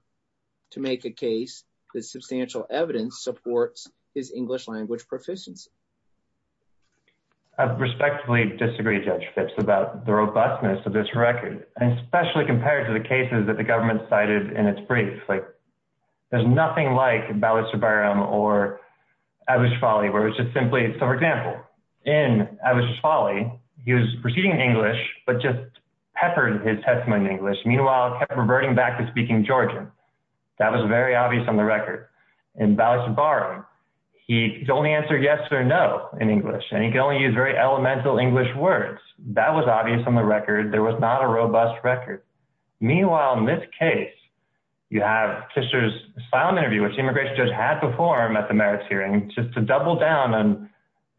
to make a case that substantial evidence supports his English language proficiency. I respectfully disagree, Judge Fitz, about the cases that the government cited in its briefs. There's nothing like Bala Shabarim or Abu Shufali, where it's just simply, so, for example, in Abu Shufali, he was proceeding in English, but just peppered his testimony in English. Meanwhile, peppered him back to speaking Georgian. That was very obvious on the record. In Bala Shabarim, he could only answer yes or no in English, and he could only use very elemental English words. That was obvious on the record. There was not a robust record. Meanwhile, in this case, you have Kishore's asylum interview, which Immigration Judge had before him at the merits hearing, just to double down on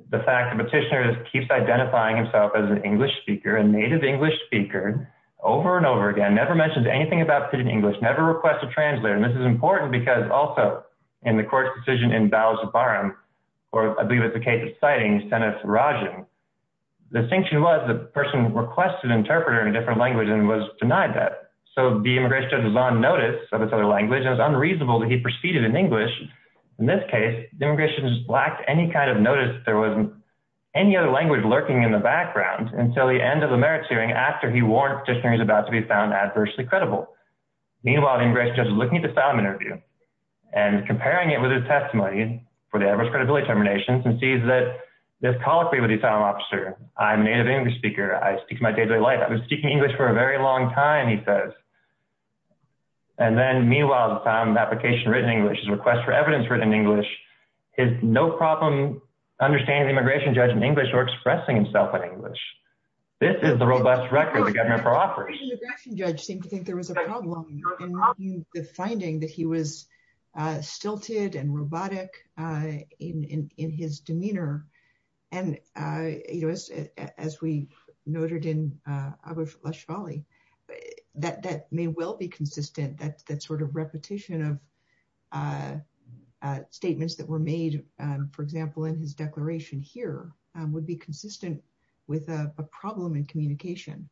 the fact that Kishore keeps identifying himself as an English speaker, a native English speaker, over and over again, never mentions anything about speaking English, never requests a translator, and this is important because also, in the court's decision in Bala Shabarim, or I believe it's the case citing Senate Rajan, the distinction was the person requested an interpreter in a different language and was denied that. So the Immigration Judge was on notice of this other language. It was unreasonable that he proceeded in English. In this case, the Immigration Judge lacked any kind of notice that there was any other language lurking in the background until the end of the merits hearing, after he warned Kishore he was about to be found adversely credible. Meanwhile, the Immigration Judge was looking at the asylum interview and comparing it with his testimony for the average credibility determinations and sees that this colloquy with the asylum officer, I'm a native English speaker, I speak my daily life, I've been speaking English for a very long time, he says. And then meanwhile, the time of application written in English, his request for evidence written in English, his no problem understanding the Immigration Judge in English or expressing himself in English. This is the robust record the government offers. The Immigration Judge didn't think there was a problem, the finding that he was stilted and robotic in his demeanor. And as we noted in other Lashvali, that may well be consistent, that sort of repetition of statements that were made, for example, in his declaration here, would be consistent with a problem in communication,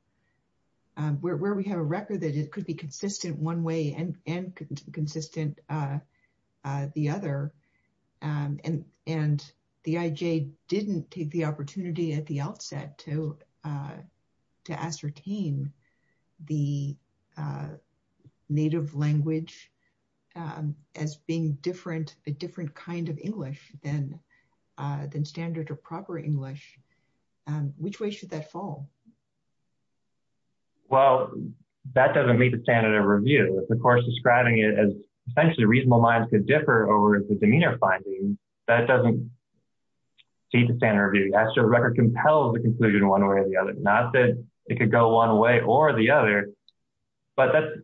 and where we have a record that it could be consistent one way and could be consistent the other. And the IJ didn't take the opportunity at the outset to ascertain the native language as being a different kind of English than standard or proper English. Which way should that fall? Well, that doesn't meet the standard of review, of course, describing it as potentially reasonable lines could differ over the demeanor finding, that doesn't meet the standard of review. That's a record compelled to conclude one way or the other, not that it could go one way or the other. But that's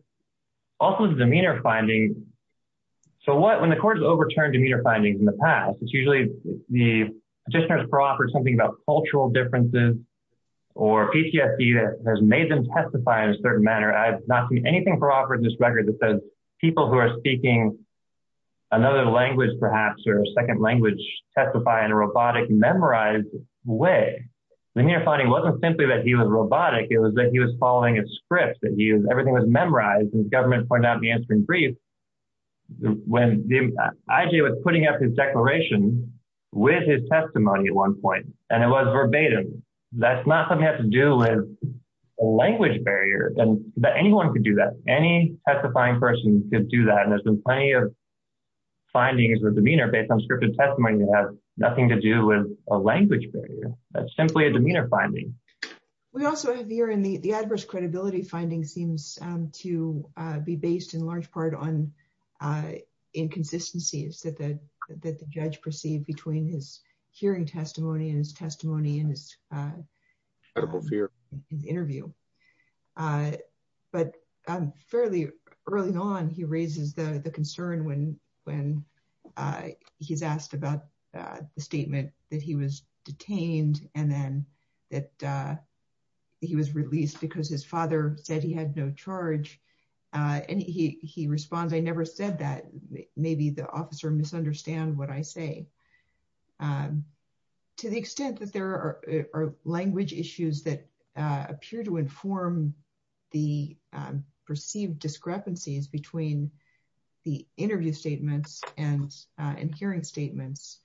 also the demeanor finding. So what when the court has overturned demeanor findings in the past, it's usually the petitioners for offer something about cultural differences, or PTFE has made them testify in a certain manner. I've not seen anything for offer in this record that says people who are speaking another language, perhaps, or a second language testify in a robotic, memorized way. The demeanor finding wasn't simply that he was robotic, it was that he was following a script, that he was, everything was memorized and the government pointed out the answer in brief. When IJ was putting up his declaration with his testimony at one point, and it was verbatim, that's not something that has to do with a language barrier, but anyone could do that. Any testifying person could do that, and there's been plenty of findings with demeanor based on scripted testimony that has nothing to do with a language barrier. That's simply a demeanor finding. We also have here, and the adverse credibility finding seems to be based in large part on inconsistencies that the judge perceived between his hearing testimony and his testimony and his interview. But fairly early on, he raises the concern when he's asked about the statement that he was detained and then that he was released because his father said he had no charge, and he responds, I never said that. Maybe the officer misunderstood what I say. To the extent that there are language issues that appear to inform the perceived discrepancies between the interview statements and hearing statements,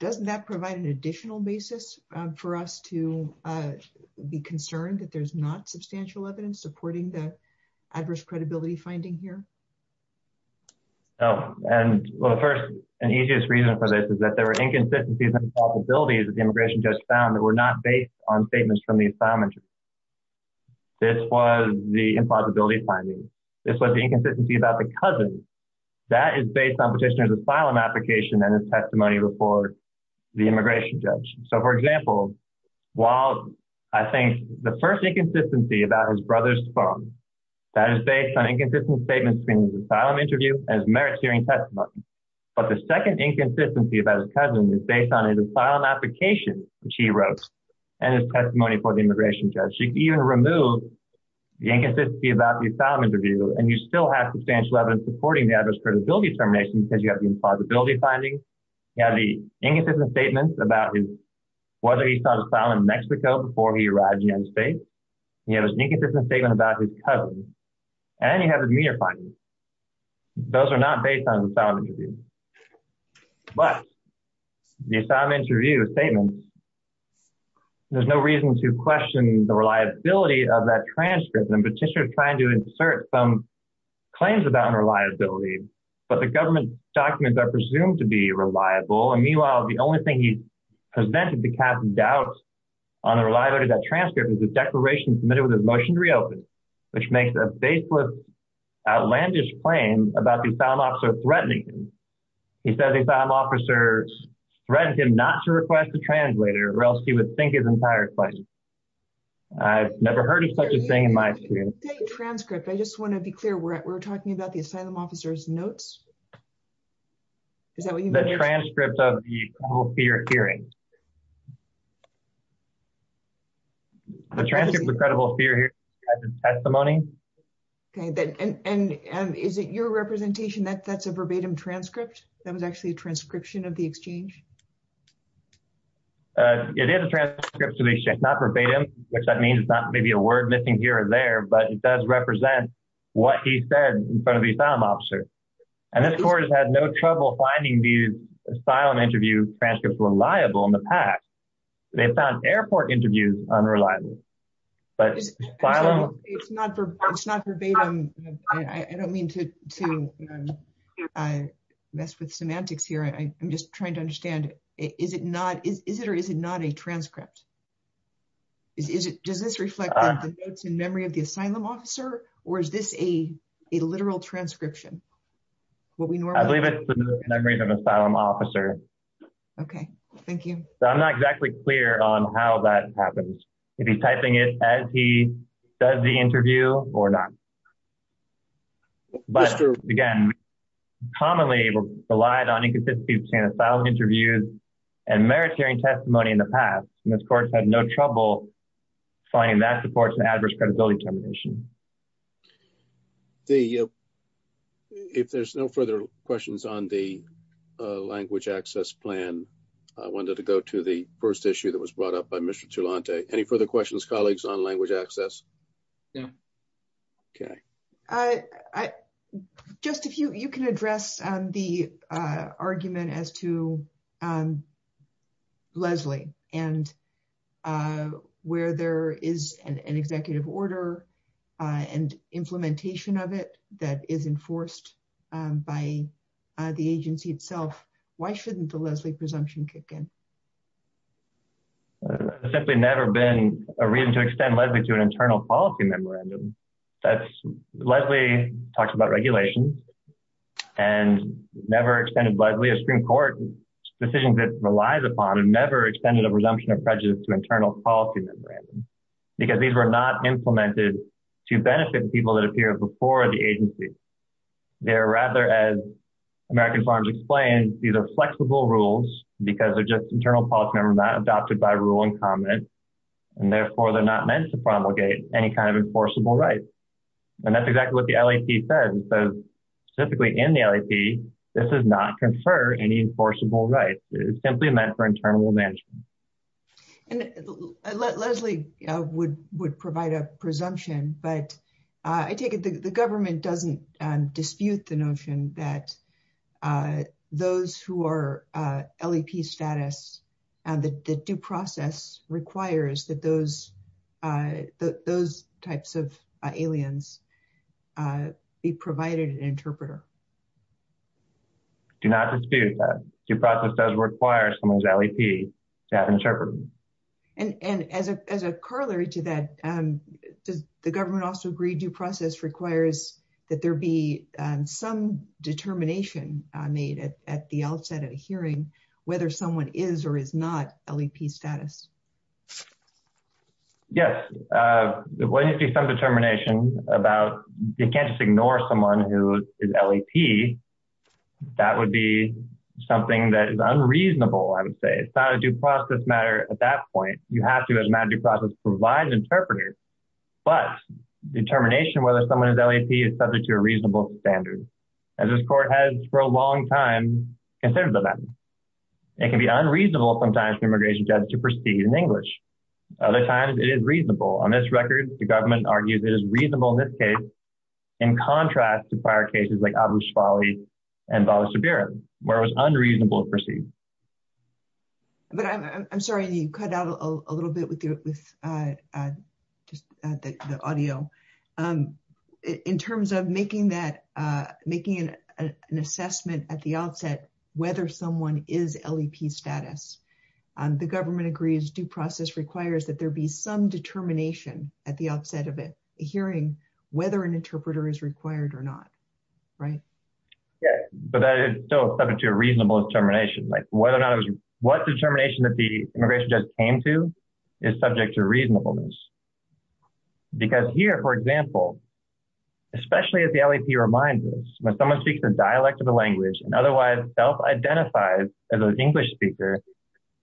doesn't that provide an additional basis for us to be concerned that there's not substantial evidence supporting the adverse credibility finding here? First, the easiest reason for this is that there are inconsistencies and possibilities that the immigration judge found that were not based on this. This was the inconsistency about the cousin. That is based on petitioner's asylum application and his testimony before the immigration judge. For example, while I think the first inconsistency about his brother's phone, that is based on inconsistent statements between his asylum interview and his merits hearing testimony. But the second inconsistency about his cousin is based on his asylum application, which he wrote, and his asylum interview, and you still have substantial evidence supporting the adverse credibility termination because you have the impossibility finding. You have the inconsistent statements about whether he saw the asylum in Mexico before he arrived in the United States. You have an inconsistent statement about his cousin, and you have the demeanor findings. Those are not based on the asylum interview. But the asylum interview statements, there's no reason to question the inconsistency. The government documents are presumed to be reliable. Meanwhile, the only thing he presented to cast doubt on the reliability of that transcript was a declaration submitted with a motion to reopen, which makes a baseless outlandish claim about the asylum officer threatening him. He said the asylum officer threatened him not to request a translator or else he would think his entire claim. I've never heard of such a thing in my experience. The transcript, I just want to be clear, we're talking about the asylum officer's notes? The transcript of the total fear hearing. The transcript of the credible fear hearing testimony. Okay, and is it your representation that that's a verbatim transcript? That was actually a transcription of the exchange? It is a transcription. It's not verbatim, which that means it's not maybe a word missing here or there, but it does represent what he said in front of the asylum officer. And this court has had no trouble finding these asylum interview transcripts reliable in the past. They found airport interviews unreliable. But asylum... It's not verbatim. I don't mean to mess with semantics here. I'm just trying to understand is it or is it not a transcript? Does this reflect the notes in memory of the asylum officer or is this a literal transcription? I believe it's in memory of the asylum officer. Okay, thank you. I'm not exactly clear on how that happens. If he's typing it as he does the interview or not. But again, commonly relied on inconsistency in asylum interviews and merit hearing testimony in the past. And this court had no trouble finding that supports an adverse credibility determination. If there's no further questions on the language access plan, I wanted to go to the first issue that was brought up by Mr. Cholante. Any further questions, colleagues on language access? No. Okay. I... Just if you can address the argument as to Leslie and where there is an executive order and implementation of it that is enforced by the agency itself. Why shouldn't the Leslie presumption kick in? There's simply never been a reason to extend Leslie to an internal policy memorandum. Leslie talks about regulations and never extended Leslie, a Supreme Court decision that relies upon and never extended a presumption of prejudice to internal policy memorandum. Because these were not implemented to benefit people that appear before the agency. They are rather as American Farms explained, these are flexible rules because they're just internal policy and were not adopted by ruling comment. And therefore, they're not meant to enforce. And that's exactly what the LAP said. Specifically in the LAP, this does not confer any enforceable rights. It is simply meant for internal management. And Leslie would provide a presumption, but I take it the government doesn't dispute the notion that those who are LAP status and the due process requires that those types of aliens be provided an interpreter. Do not dispute that. Due process does require someone's LAP to have an interpreter. And as a corollary to that, the government also agreed due process requires that there be some determination made at the outset of the hearing, whether someone is or is not LAP status. Yes, there will be some determination about, you can't just ignore someone who is LAP. That would be something that is unreasonable, I would say. It's not a due process matter at that point. You have to, as a matter of due process, provide an interpreter. But determination whether someone is LAP is subject to a reasonable standard, as this court has for a long time considered them. It can be unreasonable sometimes for immigration judges to proceed in English. Other times, it is reasonable. On this record, the government argues it is reasonable in this case, in contrast to prior cases like Abu Shabali and Bala Sabirah, where it was unreasonable to proceed. But I'm sorry, I need to cut out a little bit with the audio. In terms of making an assessment at the outset, whether someone is LAP status, the government agrees due process requires that there be some determination at the outset of a hearing, whether an interpreter is required or not. Right? Yes, but that is still subject to a reasonable determination. What determination that the LAP is subject to reasonableness? Because here, for example, especially if the LAP reminds us that someone speaks a dialect of the language and otherwise self-identifies as an English speaker,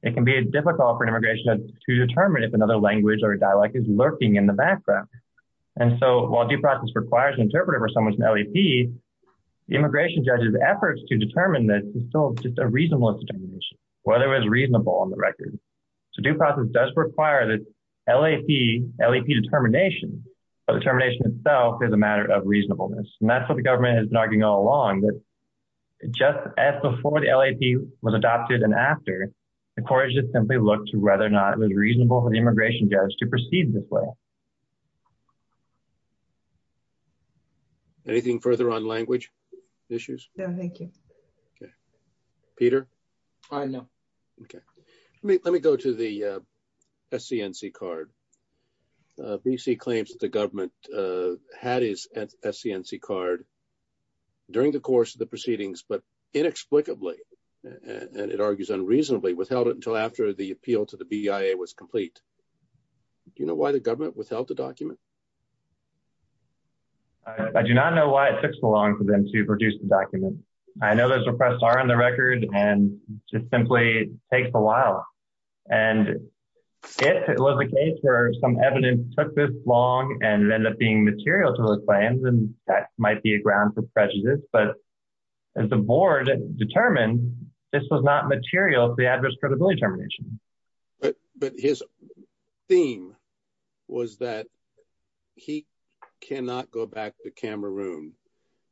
it can be difficult for an immigration judge to determine if another language or dialect is lurking in the background. And so while due process requires an interpreter for someone's LAP, immigration judges' efforts to determine this is still just a reasonable determination, whether it was reasonable on the record. So due process does require that LAP determination, but determination itself is a matter of reasonableness. And that's what the government is arguing all along, that just as before the LAP was adopted and after, the court has just simply looked to whether or not it was reasonable for the immigration judge to proceed this way. Anything further on language issues? No, thank you. Peter? No. Okay. Let me go to the SCNC card. BC claims that the government had his SCNC card during the course of the proceedings, but inexplicably, and it argues unreasonably, withheld it until after the appeal to the BIA was complete. Do you know why the government withheld the document? I do not know why it took so long for them to produce the document. I know those requests are on the record and it simply takes a while. And if it was a case where some evidence took this long and ended up being material to the claims, then that might be a ground for prejudice. But as the board determined, this was not material to the adverse credibility determination. But his theme was that he cannot go back to Cameroon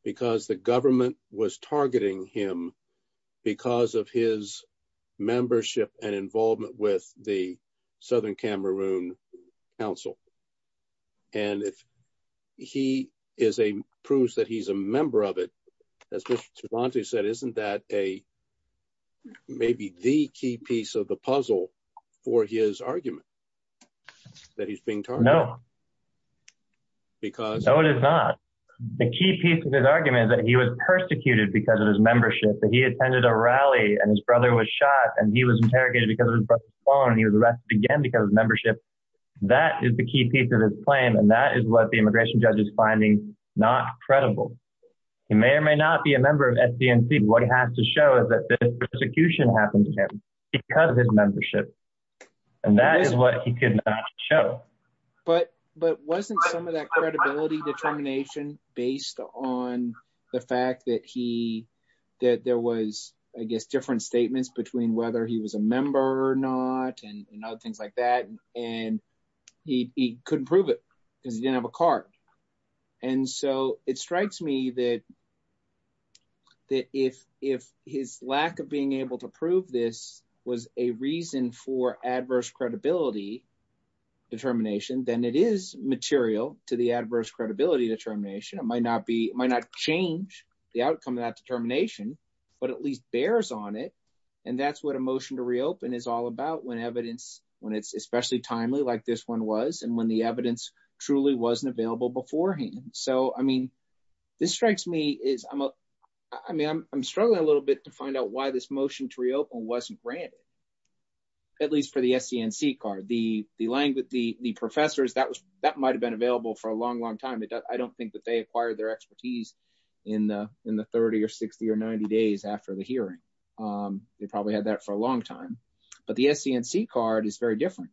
because the government was targeting him because of his membership and involvement with the Southern Cameroon Council. And if he proves that he's a member of it, as Mr. Cervantes said, isn't that maybe the key piece of the puzzle for his argument that he's being targeted? No. No, it is not. The key piece of his argument is that he was persecuted because of his membership, that he attended a rally and his brother was shot and he was interrogated because of his brother's phone, and he was arrested again because of his membership. That is the key piece of his claim. And that is what the immigration judge is finding not credible. He may or may not be a member of SCNC. What he has to show is that this persecution happened to him because of his membership. But wasn't some of that credibility determination based on the fact that there was, I guess, different statements between whether he was a member or not and other things like that? And he couldn't prove it because he didn't have a card. And so it strikes me that if his lack of being able to prove this was a reason for adverse credibility determination, then it is material to the adverse credibility determination. It might not be, it might not change the outcome of that determination, but at least bears on it. And that's what a motion to reopen is all about when evidence, when it's especially timely like this one was and when the evidence truly wasn't available beforehand. So, I mean, this strikes me is, I mean, I'm struggling a little bit to find out why this motion to reopen wasn't granted, at least for the SCNC card. The professors, that might've been available for a long, long time. I don't think that they acquired their expertise in the 30 or 60 or 90 days after the hearing. They probably had that for a long time, but the SCNC card is very different.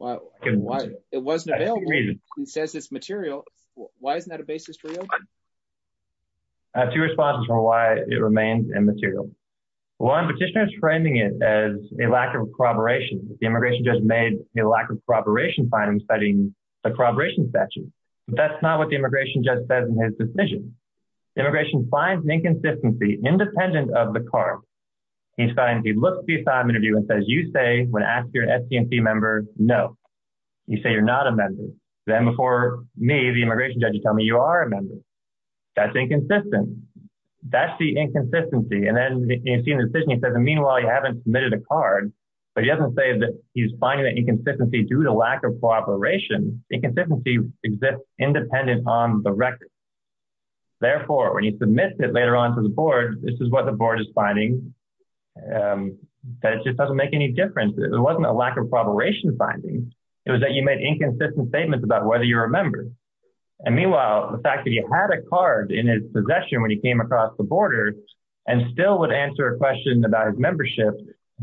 It wasn't available. He says it's material. Why isn't that a basis for reopening? I have two responses for why it remains immaterial. One petitioner is framing it as a lack of corroboration. The immigration judge made a lack of corroboration findings studying the corroboration statute, but that's not what the immigration judge says in his decision. Immigration finds an inconsistency independent of the card. He looks at the assignment and says, you say when asked if you're an SCNC member, no, you say you're not a member. Then before me, you are a member. That's inconsistent. That's the inconsistency. Then in his decision, he says, meanwhile, you haven't submitted a card, but he doesn't say that he's finding that inconsistency due to lack of corroboration. Inconsistency exists independent on the record. Therefore, when he submits it later on to the board, this is what the board is finding. That just doesn't make any difference. It wasn't a lack of corroboration findings. It was that you made inconsistent statements about whether you're a member. Meanwhile, the fact that he had a card in his possession when he came across the border and still would answer a question about his membership,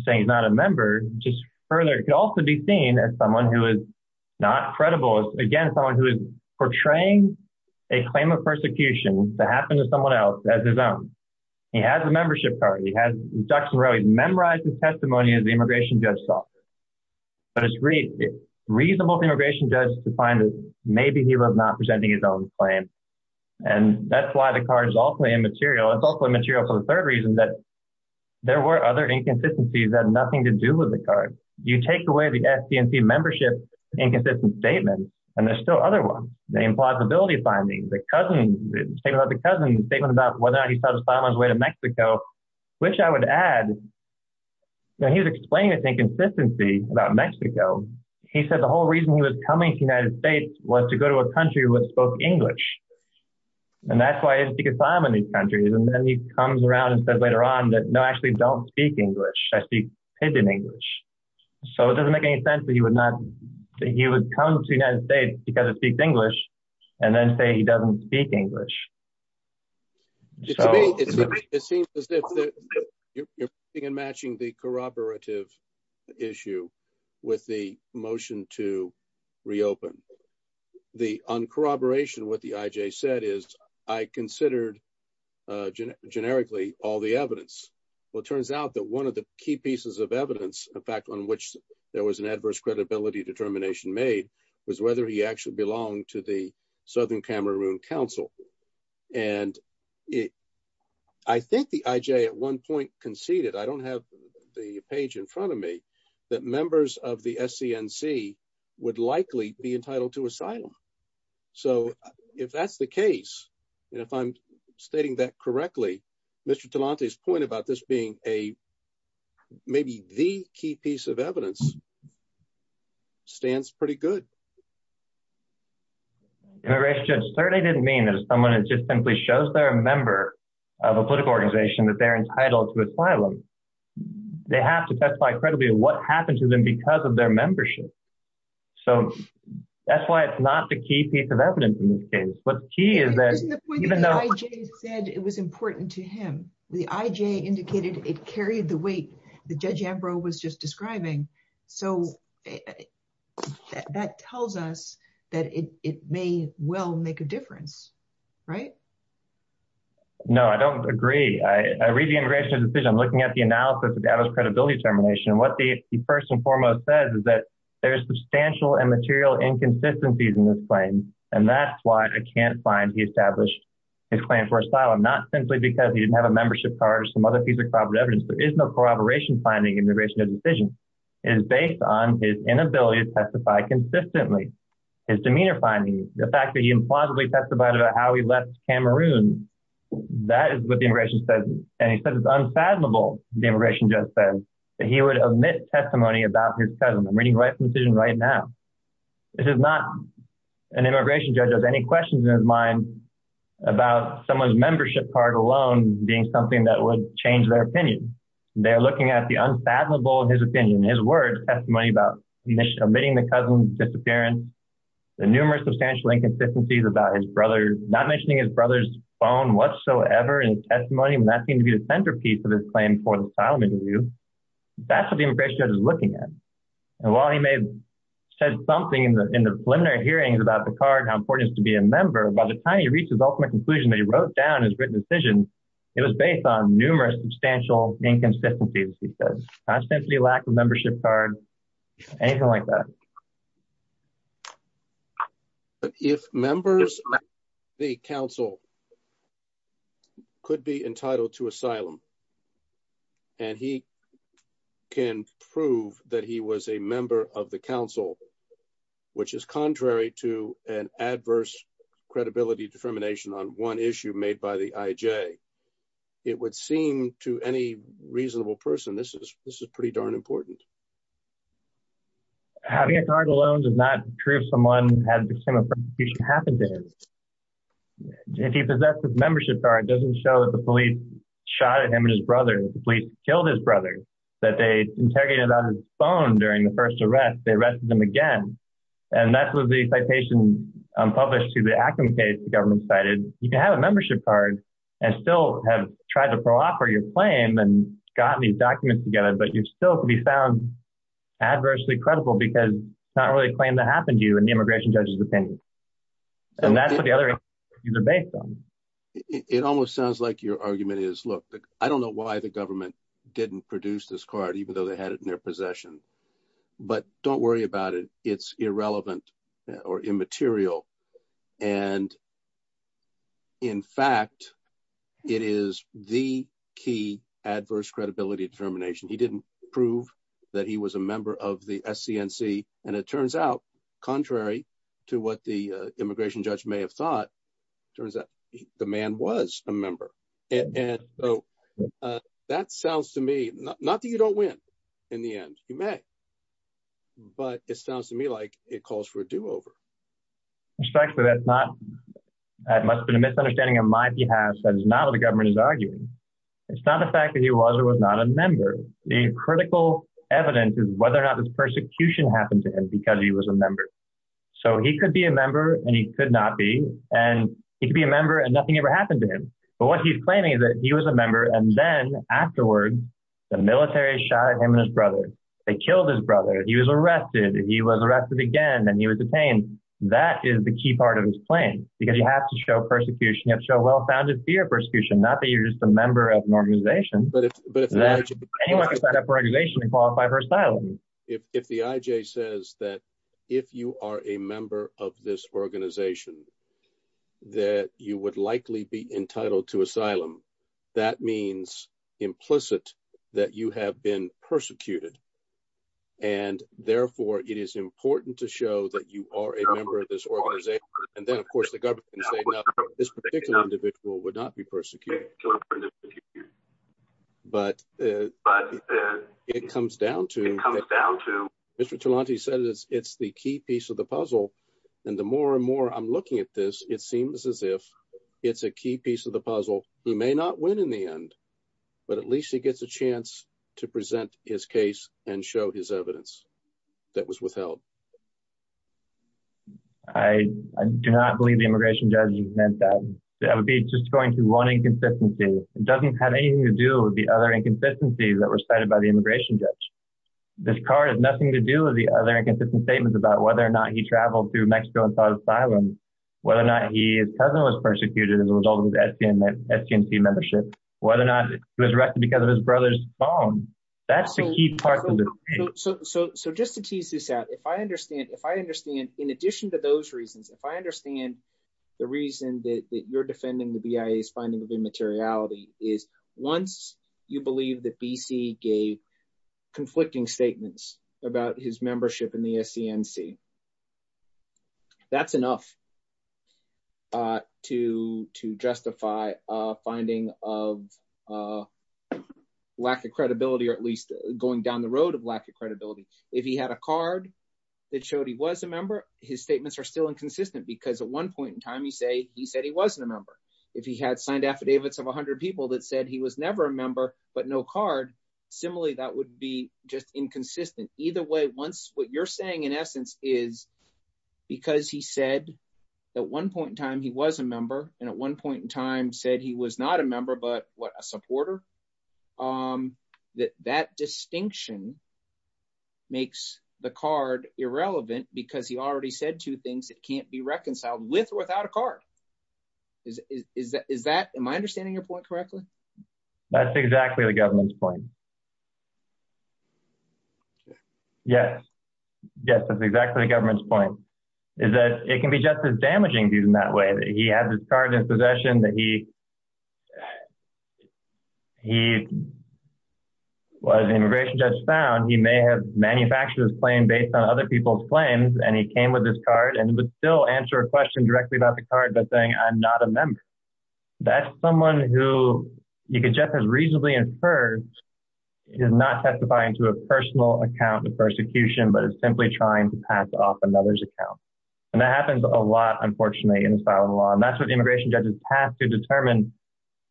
saying he's not a member, just further could also be seen as someone who is not credible. Again, someone who is portraying a claim of persecution to happen to someone else as his own. He has a membership card. He memorized the testimony that the immigration judge saw. It's reasonable for the immigration judge to find that maybe he was not presenting his own claim. That's why the card is also immaterial. It's also immaterial for the third reason that there were other inconsistencies that had nothing to do with the card. You take away the SCMP membership inconsistent statement, and there's still other ones. The impossibility findings, the cousin, the statement about the cousin, the statement about whether or not he satisfied on his way to Mexico, which I would add, he's explaining his inconsistency about Mexico. He said the whole reason he was coming to the United States was to go to a country that spoke English. That's why he didn't speak Islam in these countries. Then he comes around and says later on that, no, I actually don't speak English. I speak pidgin English. It doesn't make any sense that he would come to the United States because he speaks English and then say he doesn't speak English. It seems as if you're matching the corroborative issue with the motion to reopen. On corroboration, what the IJ said is I considered generically all the evidence. Well, it turns out that one of the key pieces of evidence, the fact on which there was an adverse credibility determination made, was whether he actually belonged to the Southern Cameroon Council. I think the IJ at one point conceded, I don't have the page in front of me, that members of the SCNC would likely be entitled to asylum. If that's the case, if I'm stating that correctly, Mr. Talante's point about this being maybe the key piece of evidence stands pretty good. In my research, it certainly didn't mean that someone just simply shows they're a member of a political organization that they're entitled to asylum. They have to testify credibly of what happened to them because of their membership. So, that's why it's not the key piece of evidence in this case. But the key is that- Isn't the point that the IJ said it was important to him? The IJ indicated it carried the weight that Judge Ambrose was just describing. So, that tells us that it may well make a difference, right? No, I don't agree. I read the immigration decision. I'm looking at the analysis of the adder's credibility determination. And what he first and foremost says is that there's substantial and material inconsistencies in this claim. And that's why I can't find he established his claim for asylum, not simply because he didn't have a membership card or some other piece of corroborative evidence. There is no corroboration finding in the immigration decision. It is based on his inability to testify consistently. His demeanor findings, the fact that he implausibly testified about how he left Cameroon, that is what the immigration says. And he says it's unfathomable, the immigration judge says, that he would omit testimony about his cousin. I'm reading the immigration decision right now. This is not- An immigration judge has any questions in his mind about someone's membership card alone being something that would change their opinion. They're looking at the unfathomable in his opinion, in his words, testimony about omitting the cousin's disappearance, the numerous substantial inconsistencies about his brother, not mentioning his brother's phone whatsoever in testimony. And that seems to be the centerpiece of this claim for the asylum interview. That's what the immigration judge is looking at. And while he may have said something in the preliminary hearings about the card, how important it is to be a member, by the time he reached his ultimate conclusion that he wrote down his written decision, it was based on numerous substantial inconsistencies. He says ostensibly lack of membership card, anything like that. If members of the council could be entitled to asylum, and he can prove that he was a member of the council, which is contrary to an adverse credibility determination on one issue made by the IJ, it would seem to any reasonable person, this is pretty darn important. Having a card alone does not prove someone had the same persecution happened to him. If he possessed a membership card, it doesn't show that the police shot at him and his brother, the police killed his brother, that they interrogated him on his phone during the first arrest, they arrested him again. And that's what the citation published to the IJ. And still have tried to proper your claim and gotten these documents together, but you still can be found adversely credible because not really a claim that happened to you in the immigration judge's opinion. And that's the other thing to debate. It almost sounds like your argument is, look, I don't know why the government didn't produce this card, even though they had it possession. But don't worry about it. It's irrelevant or immaterial. And in fact, it is the key adverse credibility determination. He didn't prove that he was a member of the SCNC. And it turns out, contrary to what the immigration judge may have thought, it turns out the man was a member. And so that sounds to me, not that you don't win in the end, you may, but it sounds to me like it calls for a do over. Respectfully, that's not, that must have been a misunderstanding on my behalf. That is not what the government is arguing. It's not the fact that he was or was not a member. The critical evidence is whether or not this persecution happened to him because he was a member. So he could be a member and nothing ever happened to him. But what he's claiming is that he was a member. And then afterward, the military shot him and his brother. They killed his brother. He was arrested. He was arrested again, and he was detained. That is the key part of his claim. Because you have to show persecution, you have to show well-founded fear of persecution, not that you're just a member of an organization. Anyone can set up an organization and qualify for asylum. If the IJ says that, if you are a member of this organization, that you would likely be entitled to asylum, that means implicit that you have been persecuted. And therefore, it is important to show that you are a member of this organization. And then of course, the government can say, no, this particular individual would not be persecuted. But it comes down to, Mr. Talante says it's the key piece of the puzzle. And the more and more I'm looking at this, it seems as if it's a key piece of the puzzle. He may not win in the end, but at least he gets a chance to present his case and show his evidence that was withheld. I do not believe the immigration judge meant that. That would be just going through one inconsistency. It doesn't have anything to do with the other inconsistencies that were cited by the immigration judge. This car has nothing to do with the other inconsistent statements about whether or not he traveled through Mexico and sought asylum, whether or not his cousin was persecuted as a result of his STNC membership, whether or not he was arrested because of his brother's bomb. That's the key part of the case. So just to tease this out, if I understand, in addition to those reasons, if I understand the reason that you're defending the BIA's finding of conflicting statements about his membership in the STNC, that's enough to justify a finding of lack of credibility, or at least going down the road of lack of credibility. If he had a card that showed he was a member, his statements are still inconsistent because at one point in time he said he wasn't a member. If he had signed affidavits of 100 people that said he was never a member but no card, similarly that would be just inconsistent. Either way, what you're saying in essence is because he said at one point in time he was a member and at one point in time said he was not a member but a supporter, that distinction makes the card irrelevant because he already said two things that can't be reconciled with a card. Am I understanding your point correctly? That's exactly the government's point. Yes. Yes, that's exactly the government's point. It can be just as damaging viewed in that way, that he has his card in possession, that he was an immigration judge found, he may have manufactured his claim based on other people's claims and he came with his card and would still answer a question directly about the card by saying I'm not a member. That's someone who you could just as reasonably infer is not testifying to a personal account of persecution but is simply trying to pass off another's account and that happens a lot unfortunately in asylum law and that's what the immigration judges have to determine.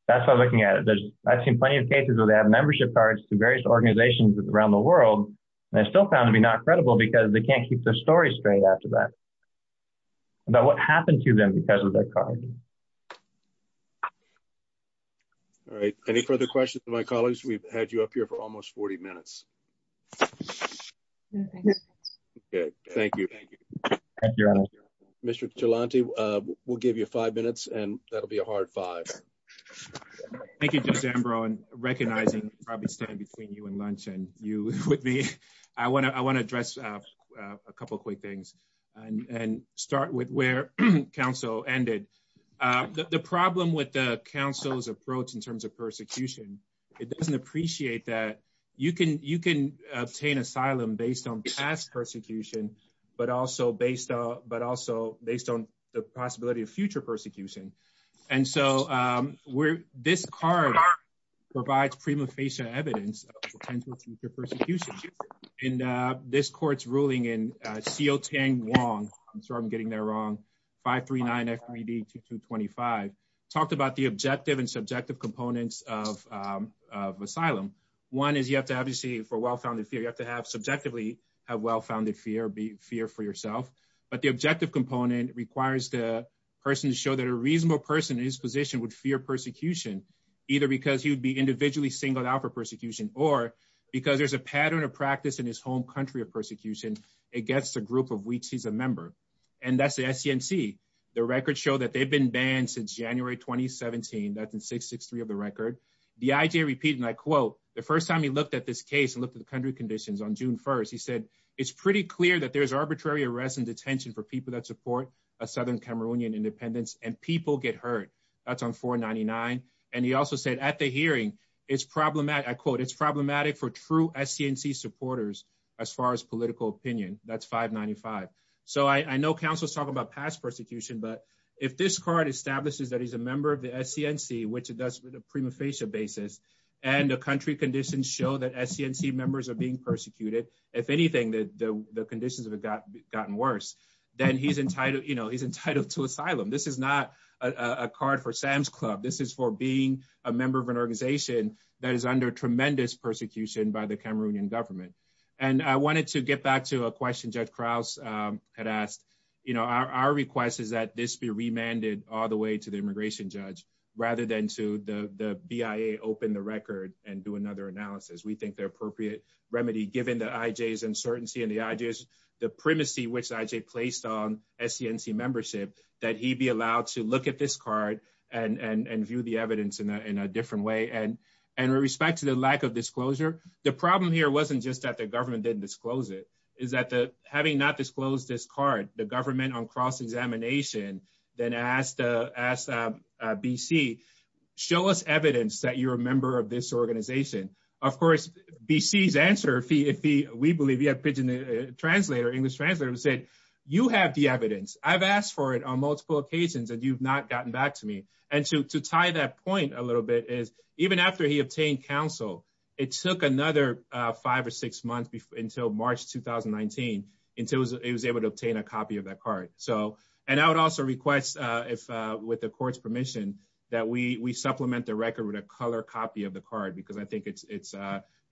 That's why I'm looking at it. I've seen plenty of cases where they have membership cards to various organizations around the world and they're still found to be not credible because they can't keep their story straight after that. But what happened to them because of that card? All right, any further questions to my colleagues? We've had you up here for almost 40 minutes. Okay, thank you. Thank you. Mr. Chilanti, we'll give you five minutes and that'll be a hard five. Thank you, Judge Ambrose, and recognizing probably standing between you and lunch and you with me, I want to address a couple quick things and start with where council ended. The problem with the council's approach in terms of persecution, it doesn't appreciate that you can obtain asylum based on past persecution but also based on the possibility of future persecution and so this card provides prima facie evidence of potential future persecution and this court's ruling in CO10 Wong, I'm sorry I'm getting that wrong, 539 FED 2225, talked about the objective and subjective components of asylum. One is you have to have to see for well-founded fear, you have to have subjectively have well-founded fear, be fear for but the objective component requires the person to show that a reasonable person in his position would fear persecution either because he would be individually singled out for persecution or because there's a pattern of practice in his home country of persecution against a group of which he's a member and that's the SCNC. The records show that they've been banned since January 2017, that's in 663 of the record. The IJ repeats my quote, the first time he looked at this case and looked at the country conditions on June 1st, he said it's pretty clear that there's arbitrary arrests and detention for people that support a southern Cameroonian independence and people get hurt, that's on 499 and he also said at the hearing it's problematic, I quote, it's problematic for true SCNC supporters as far as political opinion, that's 595. So I know council is talking about past persecution but if this card establishes that he's a member of the SCNC which it does with a prima facie basis and the country conditions show that SCNC members are being persecuted, if anything the conditions have gotten worse, then he's entitled, you know, he's entitled to asylum. This is not a card for Sam's Club, this is for being a member of an organization that is under tremendous persecution by the Cameroonian government and I wanted to get back to a question Judge Krause had asked, you know, our request is that this be remanded all the way to the immigration judge rather than to the BIA open the record and do another analysis. We think the appropriate remedy given the IJ's uncertainty and the IJ's, the primacy which IJ placed on SCNC membership that he be allowed to look at this card and view the evidence in a different way and with respect to the lack of disclosure, the problem here wasn't just that the government didn't disclose it, is that the having not disclosed this card, the government on cross-examination then asked BC, show us evidence that you're a member of this organization. Of course, BC's answer, if he, we believe he had pigeon a translator, English translator who said you have the evidence, I've asked for it on multiple occasions and you've not gotten back to me and to tie that point a little bit is even after he obtained counsel, it took another five or six months until March 2019 until he was able to obtain a copy of that card. So, and I would also request if with the court's permission that we supplement the record with a color copy of the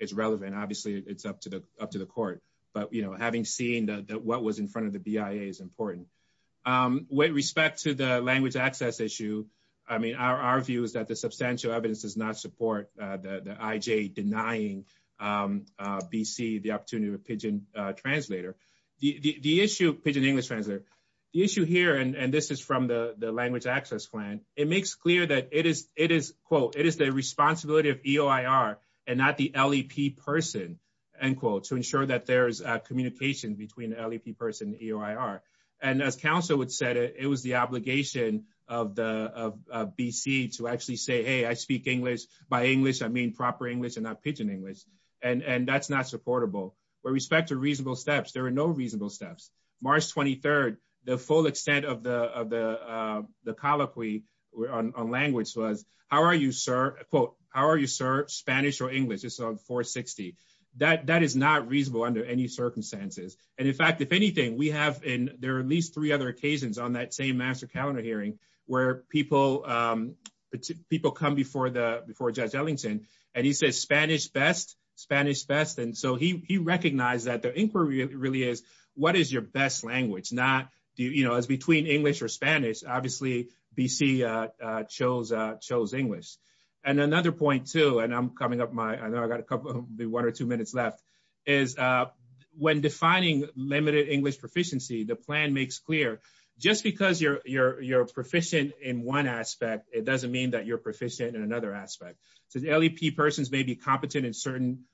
it's relevant. Obviously, it's up to the court, but having seen that what was in front of the BIA is important. With respect to the language access issue, I mean, our view is that the substantial evidence does not support the IJ denying BC the opportunity to pigeon a translator. The issue, pigeon English translator, the issue here, and this is from the language access plan, it makes clear that it is, quote, it is the responsibility of EOIR and not the LEP person, end quote, to ensure that there's a communication between the LEP person and EOIR. And as counsel would say, it was the obligation of BC to actually say, hey, I speak English by English, I mean, proper English and not pigeon English. And that's not supportable. With respect to reasonable steps, there are no reasonable steps. March 23rd, the full extent of the colloquy on language was, how are you, sir, quote, how are you, sir, Spanish or English? It's on 460. That is not reasonable under any circumstances. And in fact, if anything, we have, and there are at least three other occasions on that same master calendar hearing where people come before Judge Ellington, and he says, Spanish best, Spanish best. And so he recognized that the inquiry really is, what is your best language? Not, you know, it's between English or Spanish. Obviously, BC chose English. And another point too, and I'm coming up my, I know I got a couple, be one or two minutes left, is when defining limited English proficiency, the plan makes clear, just because you're proficient in one aspect, it doesn't mean that you're proficient in another aspect. So the LEP persons may be competent in certain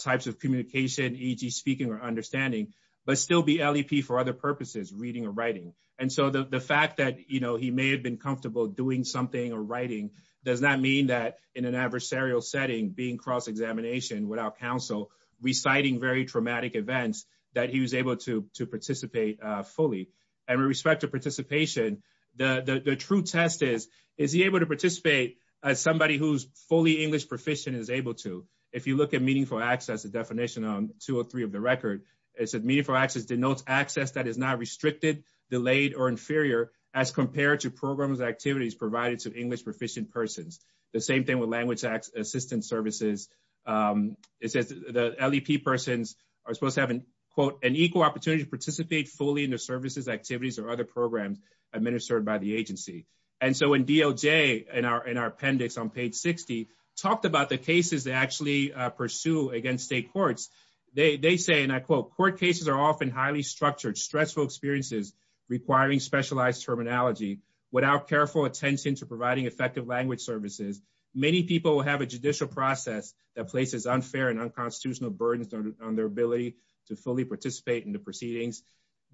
types of communication, e.g. speaking or understanding, but still be LEP for other purposes, reading or writing. And so the fact that, you know, he may have been comfortable doing something or writing does not mean that in an adversarial setting, being cross-examination without counsel, reciting very traumatic events, that he was able to participate fully. And with respect to participation, the true test is, is he able to participate as somebody who's fully English proficient and is able to? If you look at meaningful access, the definition on 203 of the record, it says meaningful access denotes access that is not restricted, delayed, or inferior as compared to programs and activities provided to English proficient persons. The same thing with language assistance services. It says the LEP persons are supposed to have an, quote, an equal opportunity to participate fully in the services, activities, or other programs administered by the agency. And so when DOJ in our appendix on page 60 talked about the cases they actually pursue against state courts, they say, and I quote, court cases are often highly structured, stressful experiences requiring specialized terminology without careful attention to providing effective language services. Many people have a judicial process that places unfair and unconstitutional burdens on their ability to fully participate in proceedings.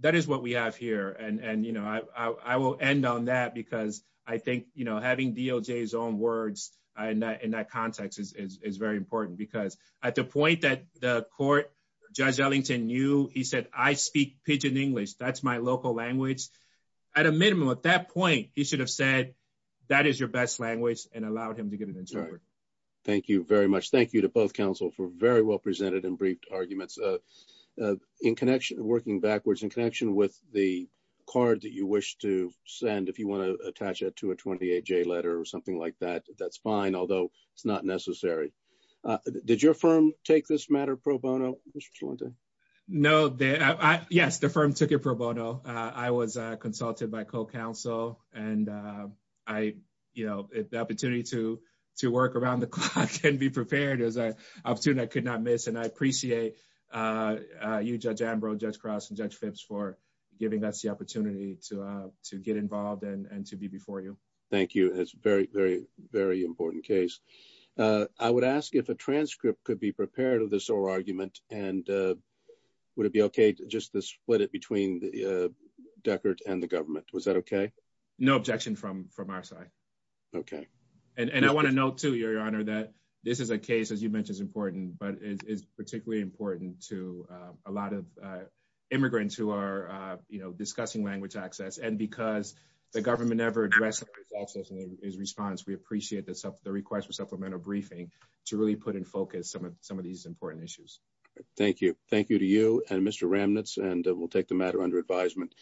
That is what we have here. And, and, you know, I, I will end on that because I think, you know, having DOJ's own words in that context is, is, is very important because at the point that the court, Judge Ellington knew, he said, I speak pidgin English. That's my local language. At a minimum, at that point, he should have said that is your best language and allowed him to get an interpreter. Thank you very much. Thank you to both counsel for very well presented and brief arguments in connection, working backwards in connection with the card that you wish to send, if you want to attach that to a 28-J letter or something like that, that's fine, although it's not necessary. Did your firm take this matter pro bono? No, I, yes, the firm took it pro bono. I was consulted by co-counsel and I, you know, the opportunity to, to work around the clock and be prepared is an opportunity I could not miss. And I appreciate you, Judge Ambrose, Judge Cross, and Judge Phipps for giving us the opportunity to, to get involved and, and to be before you. Thank you. It's very, very, very important case. I would ask if a transcript could be prepared of this oral argument and would it be okay just to split it between Deckert and the government? Was that okay? No objection from, from our side. Okay. And, and I want to note too, Your Honor, that this is a case, as you mentioned, is important, but it's particularly important to a lot of immigrants who are, you know, discussing language access. And because the government never addressed access in its response, we appreciate the supplemental, the request for supplemental briefing to really put in focus some of, some of these important issues. Thank you. Thank you to you and Mr. Ramnitz and we'll take the matter under advisement.